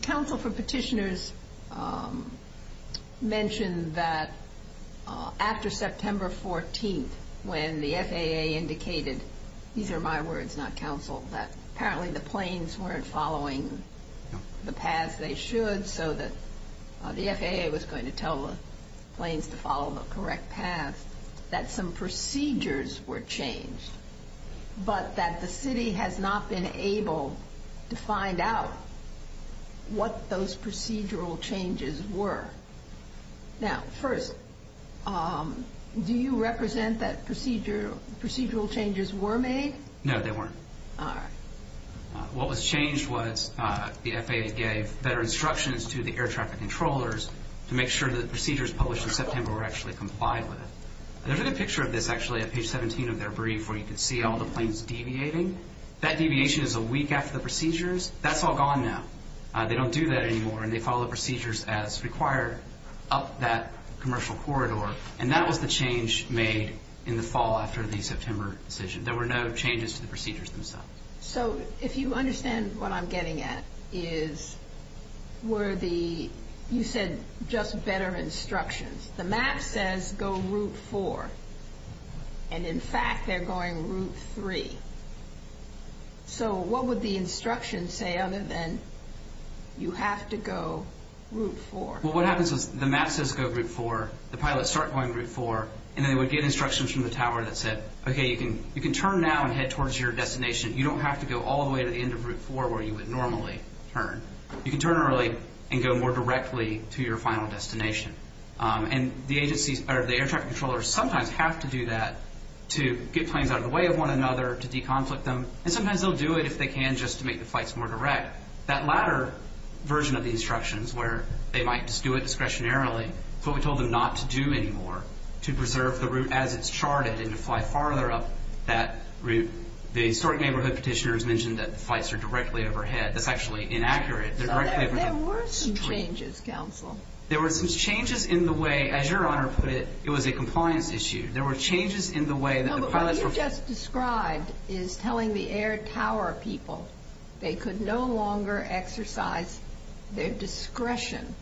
counsel for petitioners mentioned that after September 14th, when the FAA indicated, these are my words, not counsel's, that apparently the planes weren't following the path they should, so the FAA was going to tell the planes to follow the correct path, that some procedures were changed, but that the city has not been able to find out what those procedural changes were. Now, first, do you represent that procedural changes were made? No, they weren't. All right. What was changed was the FAA gave better instructions to the air traffic controllers to make sure that the procedures published in September were actually complied with. There's a picture of this, actually, on page 17 of their brief, where you can see all the planes deviating. That deviation is a week after the procedures. That's all gone now. They don't do that anymore, and they follow the procedures as required up that commercial corridor, and that was the change made in the fall after the September decision. There were no changes to the procedures themselves. So if you understand what I'm getting at is where the you said just better instructions. The map says go route 4, and in fact, they're going route 3. So what would the instructions say other than you have to go route 4? Well, what happens is the map says go route 4, the pilots start going route 4, and they would get instructions from the tower that said, okay, you can turn now and head towards your destination. You don't have to go all the way to the end of route 4 where you would normally turn. You can turn early and go more directly to your final destination. And the air traffic controllers sometimes have to do that to get planes out of the way of one another, to deconflict them, and sometimes they'll do it if they can just to make the flights more direct. That latter version of the instructions where they might just do it discretionarily, but we told them not to do any more, to preserve the route as it's charted and to fly farther up that route. The historic neighborhood petitioners mentioned that the flights are directly overhead. That's actually inaccurate. They're directly overhead. There were some changes, counsel. There were some changes in the way, as your Honor put it, it was a compliance issue. There were changes in the way that the pilots were. What you just described is telling the air tower people they could no longer exercise their discretion.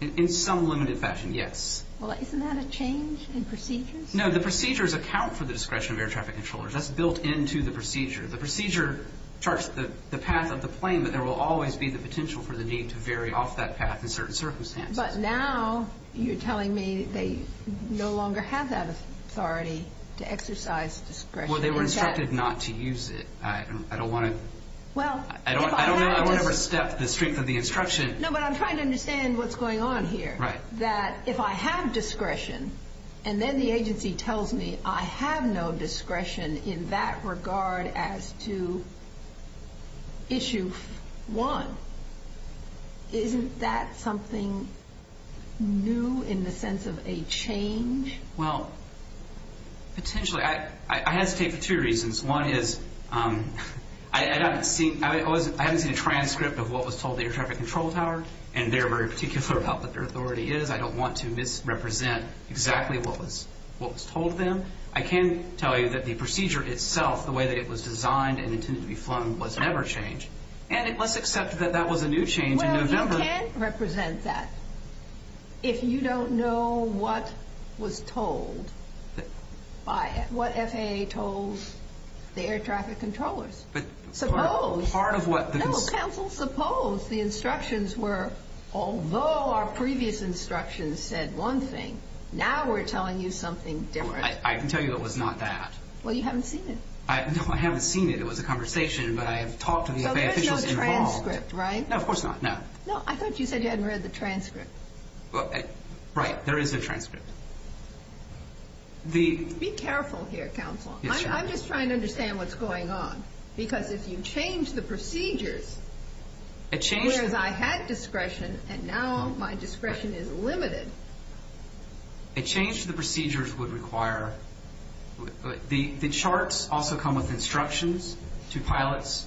In some limited fashion, yes. Well, isn't that a change in procedure? No, the procedures account for the discretion of air traffic controllers. That's built into the procedure. The procedure charts the path of the plane, but there will always be the potential for the need to vary off that path in certain circumstances. But now you're telling me they no longer have that authority to exercise discretion. Well, they were instructed not to use it. I don't want to overstep the strength of the instruction. No, but I'm trying to understand what's going on here, that if I have discretion and then the agency tells me I have no discretion in that regard as to issue one, isn't that something new in the sense of a change? Well, potentially. I hesitate for two reasons. One is I haven't seen a transcript of what was told to the air traffic control tower and they're very particular about what their authority is. I don't want to misrepresent exactly what was told to them. I can tell you that the procedure itself, the way that it was designed and intended to be flown, was never changed. And it was accepted that that was a new change in November. Well, you can't represent that if you don't know what was told by it, what FAA told the air traffic controllers. But part of what the- Suppose the instructions were, although our previous instructions said one thing, now we're telling you something different. I can tell you it was not that. Well, you haven't seen it. No, I haven't seen it. It was a conversation, but I have talked to the FAA officials involved. So there's no transcript, right? No, of course not, no. No, I thought you said you hadn't read the transcript. Right, there is a transcript. Be careful here, counsel. I'm just trying to understand what's going on. Because if you change the procedures, whereas I had discretion and now my discretion is limited- A change to the procedures would require- The charts also come with instructions to pilots.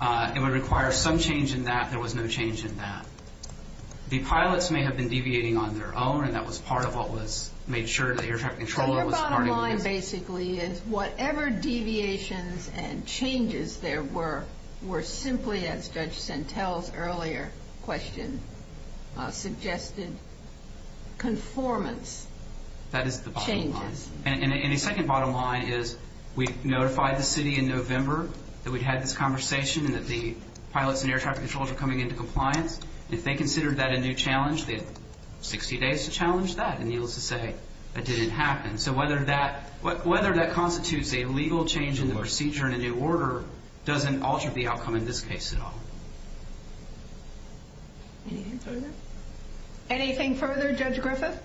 It would require some change in that. There was no change in that. The pilots may have been deviating on their own, and that was part of what was made sure the air traffic controller was part of it. Your bottom line basically is whatever deviations and changes there were, were simply, as Judge Santel's earlier question suggested, conformance changes. That is the bottom line. And the second bottom line is we notified the city in November that we had this conversation and that the pilots and air traffic controllers were coming into compliance. If they considered that a new challenge, they had 60 days to challenge that, and needless to say, that didn't happen. So whether that constitutes a legal change in the procedure and a new order doesn't alter the outcome in this case at all. Anything further, Judge Griffith?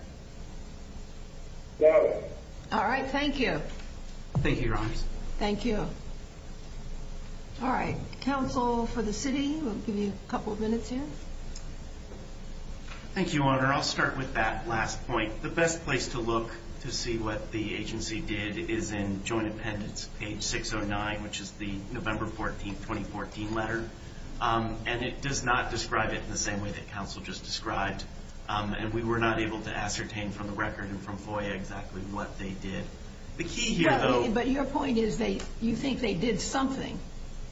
No. All right. Thank you. Thank you, Your Honor. Thank you. All right. Town poll for the city. We'll give you a couple of minutes here. Thank you, Your Honor. I'll start with that last point. The best place to look to see what the agency did is in joint appendix page 609, which is the November 14, 2014 letter, and it does not describe it in the same way that counsel just described, and we were not able to ascertain from the record and from FOIA exactly what they did. The key here, though – But your point is you think they did something.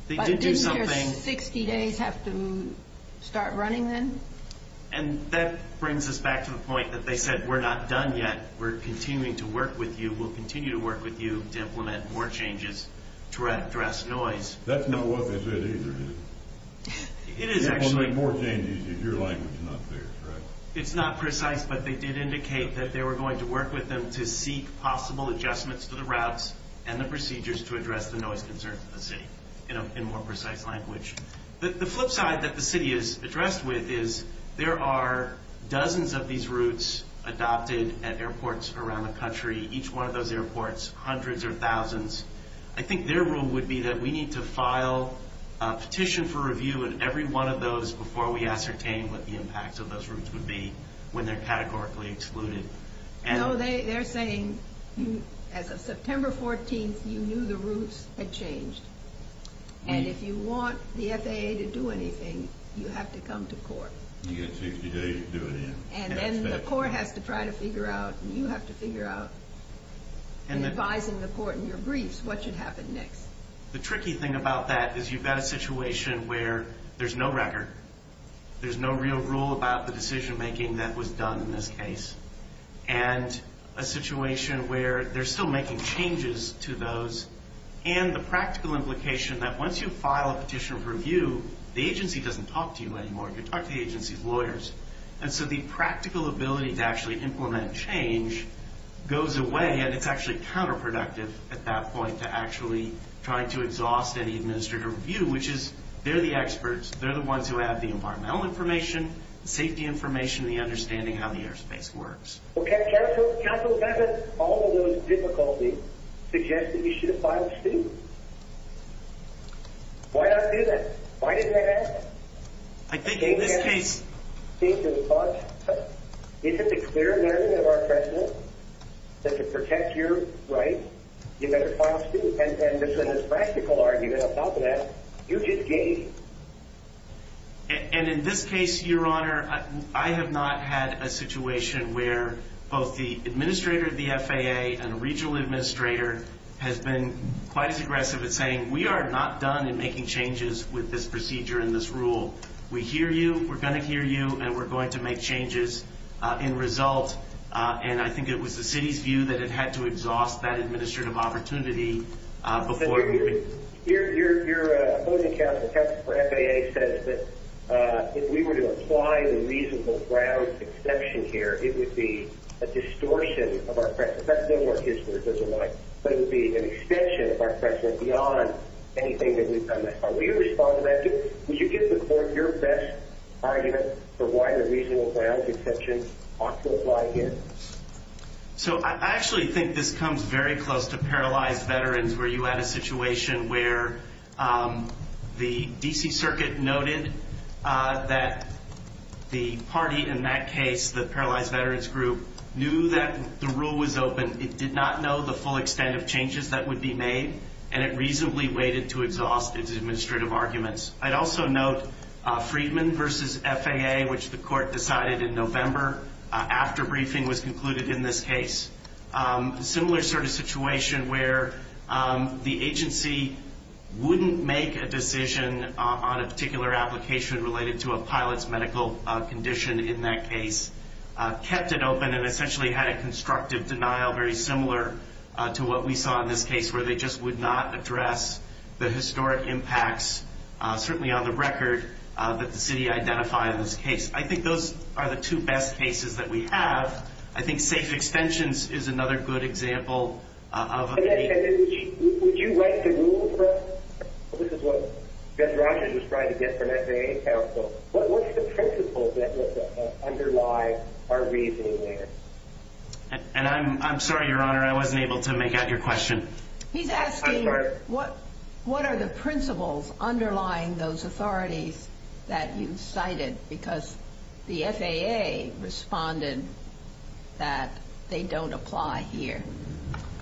They did do something. But do you hear that 60 days have to start running then? And that brings us back to the point that they said we're not done yet. We're continuing to work with you. We'll continue to work with you to implement more changes to address noise. That's not what I said either, is it? It is actually – Your language is not clear, correct? It's not precise, but they did indicate that they were going to work with them to seek possible adjustments to the routes and the procedures to address the noise concerns of the city in a more precise language. The flip side that the city is addressed with is there are dozens of these routes adopted at airports around the country, each one of those airports, hundreds or thousands. I think their rule would be that we need to file a petition for review in every one of those before we ascertain what the impact of those routes would be when they're categorically excluded. No, they're saying, as of September 14th, you knew the routes had changed. And if you want the FAA to do anything, you have to come to court. The FAA is doing it. And the court has to try to figure out, and you have to figure out, in advising the court in your briefs, what should happen next. The tricky thing about that is you've got a situation where there's no record, there's no real rule about the decision-making that was done in this case, and a situation where they're still making changes to those, and the practical implication that once you file a petition for review, the agency doesn't talk to you anymore. You talk to the agency's lawyers. And so the practical ability to actually implement change goes away, and it's actually counterproductive at that point to actually trying to exhaust any administrative review, which is they're the experts. They're the ones who have the environmental information, safety information, and the understanding of how the airspace works. Okay, counsel, counsel, all of those difficulties suggest that you should have filed a suit. Why not do that? Why didn't that happen? I think it's a clear memory of our counsel that to protect your rights, you better file a suit. And this is a practical argument about that. You just gave. And in this case, Your Honor, I have not had a situation where both the administrator of the FAA and the regional administrator has been quite aggressive in saying, we are not done in making changes with this procedure and this rule. We hear you, we're going to hear you, and we're going to make changes in result. And I think it was the city's view that it had to exhaust that administrative opportunity before. Your appointing counsel for FAA says that if we were to apply the reasonable grounds exception here, it would be a distortion of our practice. That's not what it is, what it looks like. But it would be an extension of our practice beyond anything that we've done thus far. Will you respond to that? Did you get to form your best argument for why the reasonable grounds exception ought to apply here? So I actually think this comes very close to paralyzed veterans, where you had a situation where the D.C. Circuit noted that the party in that case, the paralyzed veterans group, knew that the rule was open. It did not know the full extent of changes that would be made, and it reasonably waited to exhaust its administrative arguments. I'd also note Freedman v. FAA, which the court decided in November after briefing was concluded in this case, a similar sort of situation where the agency wouldn't make a decision on a particular application related to a pilot's medical condition in that case, kept it open, and essentially had a constructive denial very similar to what we saw in this case, where they just would not address the historic impacts, certainly on the record, that the city identified in this case. I think those are the two best cases that we have. I think safe extensions is another good example of a case. Would you write the rule for us? This is what Ben Rogers was trying to get from FAA counsel. What's the principle that would underlie our reasonableness? I'm sorry, Your Honor, I wasn't able to make out your question. He's asking what are the principles underlying those authorities that you cited, because the FAA responded that they don't apply here.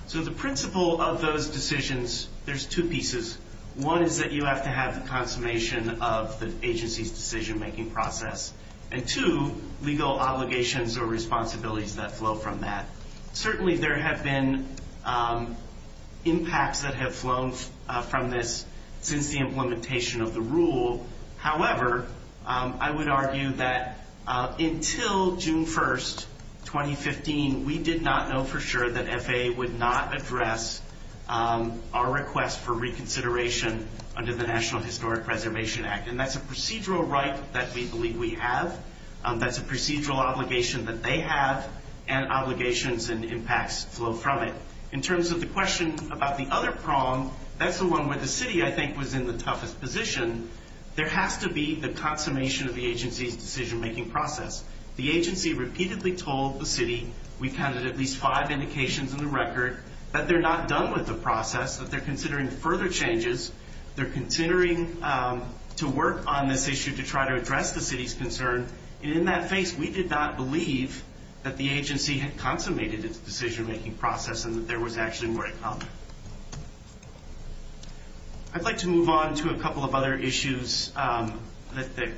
So the principle of those decisions, there's two pieces. One is that you have to have the confirmation of the agency's decision-making process, and two, legal obligations or responsibilities that flow from that. Certainly there have been impacts that have flown from this since the implementation of the rule. However, I would argue that until June 1, 2015, we did not know for sure that FAA would not address our request for reconsideration under the National Historic Preservation Act, and that's a procedural right that we believe we have. That's a procedural obligation that they have, and obligations and impacts flow from it. In terms of the question about the other problem, that's the one where the city, I think, was in the toughest position. There has to be the confirmation of the agency's decision-making process. The agency repeatedly told the city, we counted at least five indications in the record, that they're not done with the process, that they're considering further changes. They're considering to work on this issue to try to address the city's concern, and in that face, we did not believe that the agency had consummated its decision-making process and that there was actually more in common. I'd like to move on to a couple of other issues that the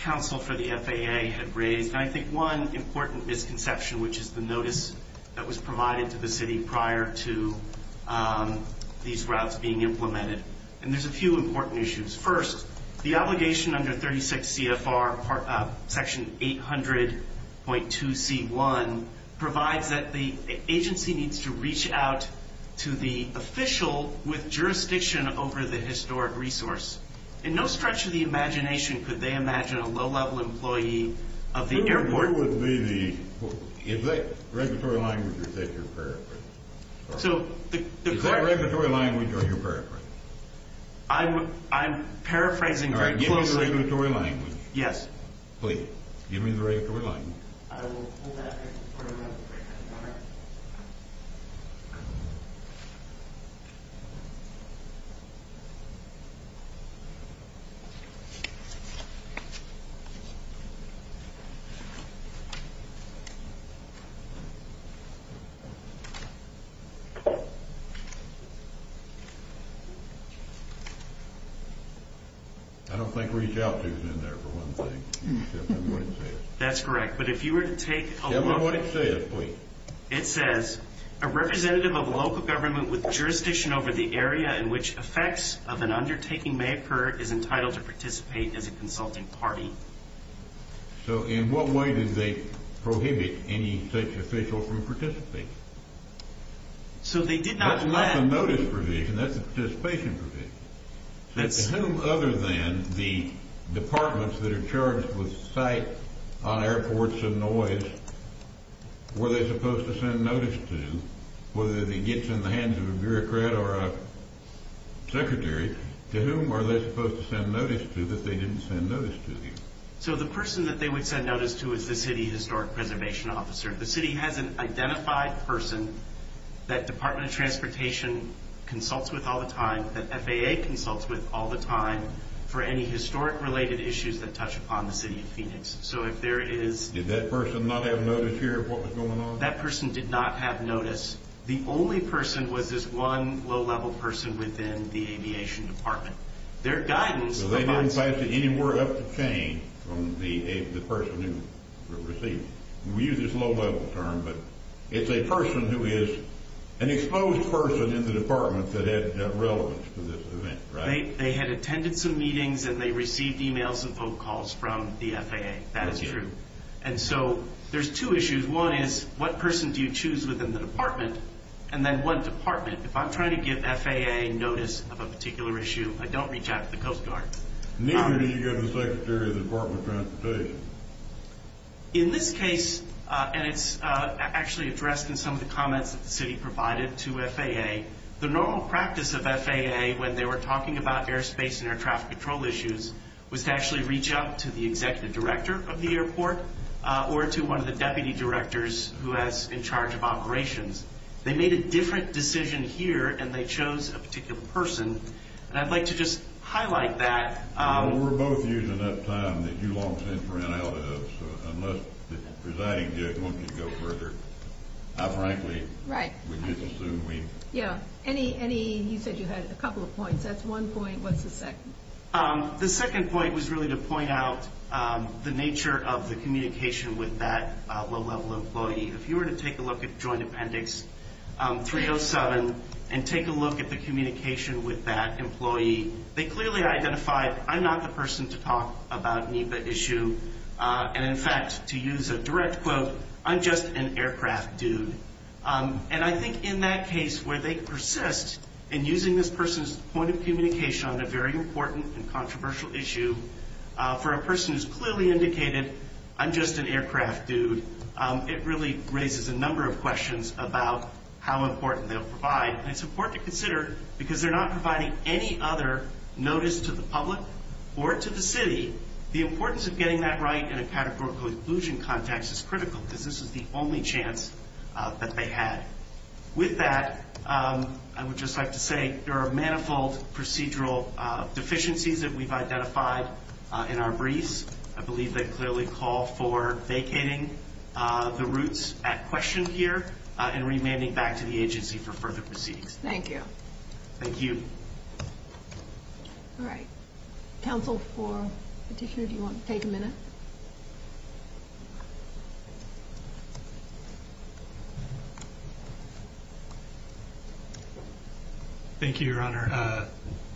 counsel for the FAA had raised, and I think one important misconception, which is the notice that was provided to the city prior to these routes being implemented. And there's a few important issues. First, the obligation under 36 CFR, section 800.2C1, provides that the agency needs to reach out to the official with jurisdiction over the historic resource. In no stretch of the imagination could they imagine a low-level employee of the airport Is that regulatory language or is that your paraphrase? Is that regulatory language or is that your paraphrase? I'm paraphrasing. Give me the regulatory language. Yes. Please. Give me the regulatory language. I will pull that back. I don't think reach out to is in there, for one thing, except in what it says. That's correct, but if you were to take a look. Give me what it says, please. It says, a representative of a local government with jurisdiction over the area in which effects of an undertaking may occur is entitled to participate as a consulting party. So in what way did they prohibit any state official from participating? That's not the notice provision. That's the participation provision. That to whom other than the departments that are charged with site on airports and noise, were they supposed to send notice to, whether it gets in the hands of a bureaucrat or a secretary, to whom are they supposed to send notice to that they didn't send notice to? So the person that they would send notice to is the city historic preservation officer. The city has an identified person that Department of Transportation consults with all the time, that FAA consults with all the time for any historic-related issues that touch upon the city of Phoenix. So if there is – Did that person not have notice to hear what was going on? That person did not have notice. The only person with is one low-level person within the aviation department. Their guidance about – So they weren't entitled to any word of change from the person who received it. We use this low-level term, but it's a person who is an exposed person in the department that had relevance to this event, right? They had attended some meetings, and they received emails and phone calls from the FAA. That is true. And so there's two issues. One is, what person do you choose within the department? And then, what department? If I'm trying to give FAA notice of a particular issue, I don't reach out to the Coast Guard. Neither did you give the Secretary of the Department of Transportation. In this case, and it's actually addressed in some of the comments that the city provided to FAA, the normal practice of FAA when they were talking about airspace and air traffic control issues was to actually reach out to the executive director of the airport or to one of the deputy directors who has been in charge of operations. They made a different decision here, and they chose a particular person. And I'd like to just highlight that. Well, we're both using that time that you all spent running out of it, so unless the presiding director wanted to go further, I frankly would just assume me. Right. Yeah. Any – you said you had a couple of points. That's one point. What's the second? The second point was really to point out the nature of the communication with that low-level employee. If you were to take a look at Joint Appendix 307 and take a look at the communication with that employee, they clearly identified, I'm not the person to talk about NEPA issue. And, in fact, to use a direct quote, I'm just an aircraft dude. And I think in that case where they persist in using this person's point of communication on a very important and controversial issue for a person who's clearly indicated, I'm just an aircraft dude, it really raises a number of questions about how important they'll provide. And it's important to consider because they're not providing any other notice to the public or to the city. The importance of getting that right in a categorical inclusion context is critical because this is the only chance that they had. With that, I would just like to say there are manifold procedural deficiencies that we've identified in our briefs. I believe they clearly call for vacating the roots at question here and remanding back to the agency for further proceedings. Thank you. Thank you. All right. Counsel for petitioner, do you want to take a minute? Thank you, Your Honor.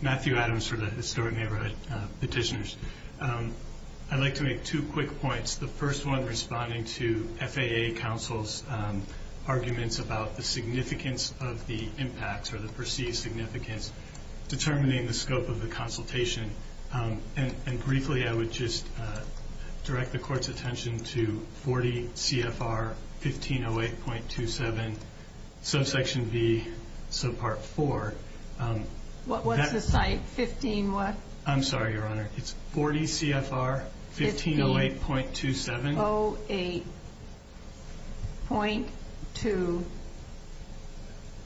Matthew Adams for the servant neighborhood petitioners. I'd like to make two quick points. The first one responding to FAA counsel's arguments about the significance of the impact or the perceived significance determining the scope of the consultation. And briefly, I would just direct the court's attention to 40 CFR 1508.27, subsection V, subpart 4. What was the site? 15 what? I'm sorry, Your Honor. It's 40 CFR 1508.27. 1508.27.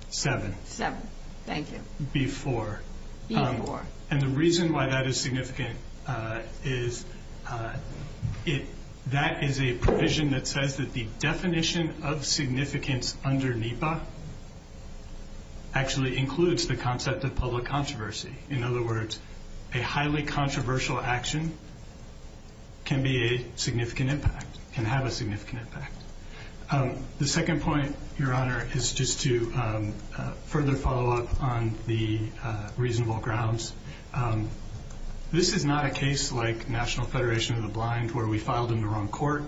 Seven. Seven, thank you. Before. Before. And the reason why that is significant is that is a provision that says that the definition of significance under NEPA actually includes the concept of public controversy. In other words, a highly controversial action can be a significant impact, can have a significant impact. The second point, Your Honor, is just to further follow up on the reasonable grounds. This is not a case like National Federation of the Blind where we filed in the wrong court,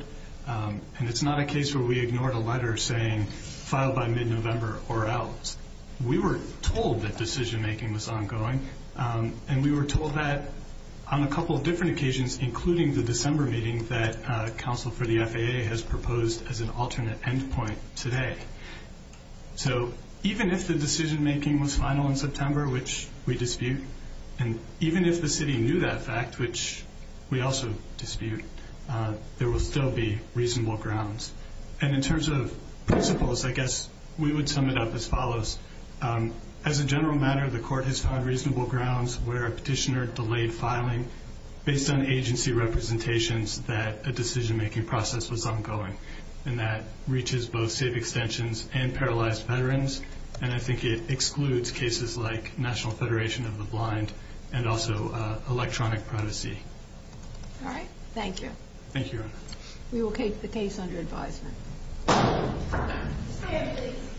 and it's not a case where we ignored a letter saying filed by mid-November or else. We were told that decision making was ongoing, and we were told that on a couple of different occasions, including the December meeting that counsel for the FAA has proposed as an alternate end point today. So even if the decision making was final in September, which we dispute, and even if the city knew that fact, which we also dispute, there will still be reasonable grounds. And in terms of principles, I guess we would sum it up as follows. As a general matter, the court has found reasonable grounds where a petitioner delayed filing based on agency representations that a decision making process was ongoing. And that reaches both safe extensions and paralyzed veterans, and I think it excludes cases like National Federation of the Blind and also electronic primacy. All right. Thank you. Thank you, Your Honor. We will take the case under advisement.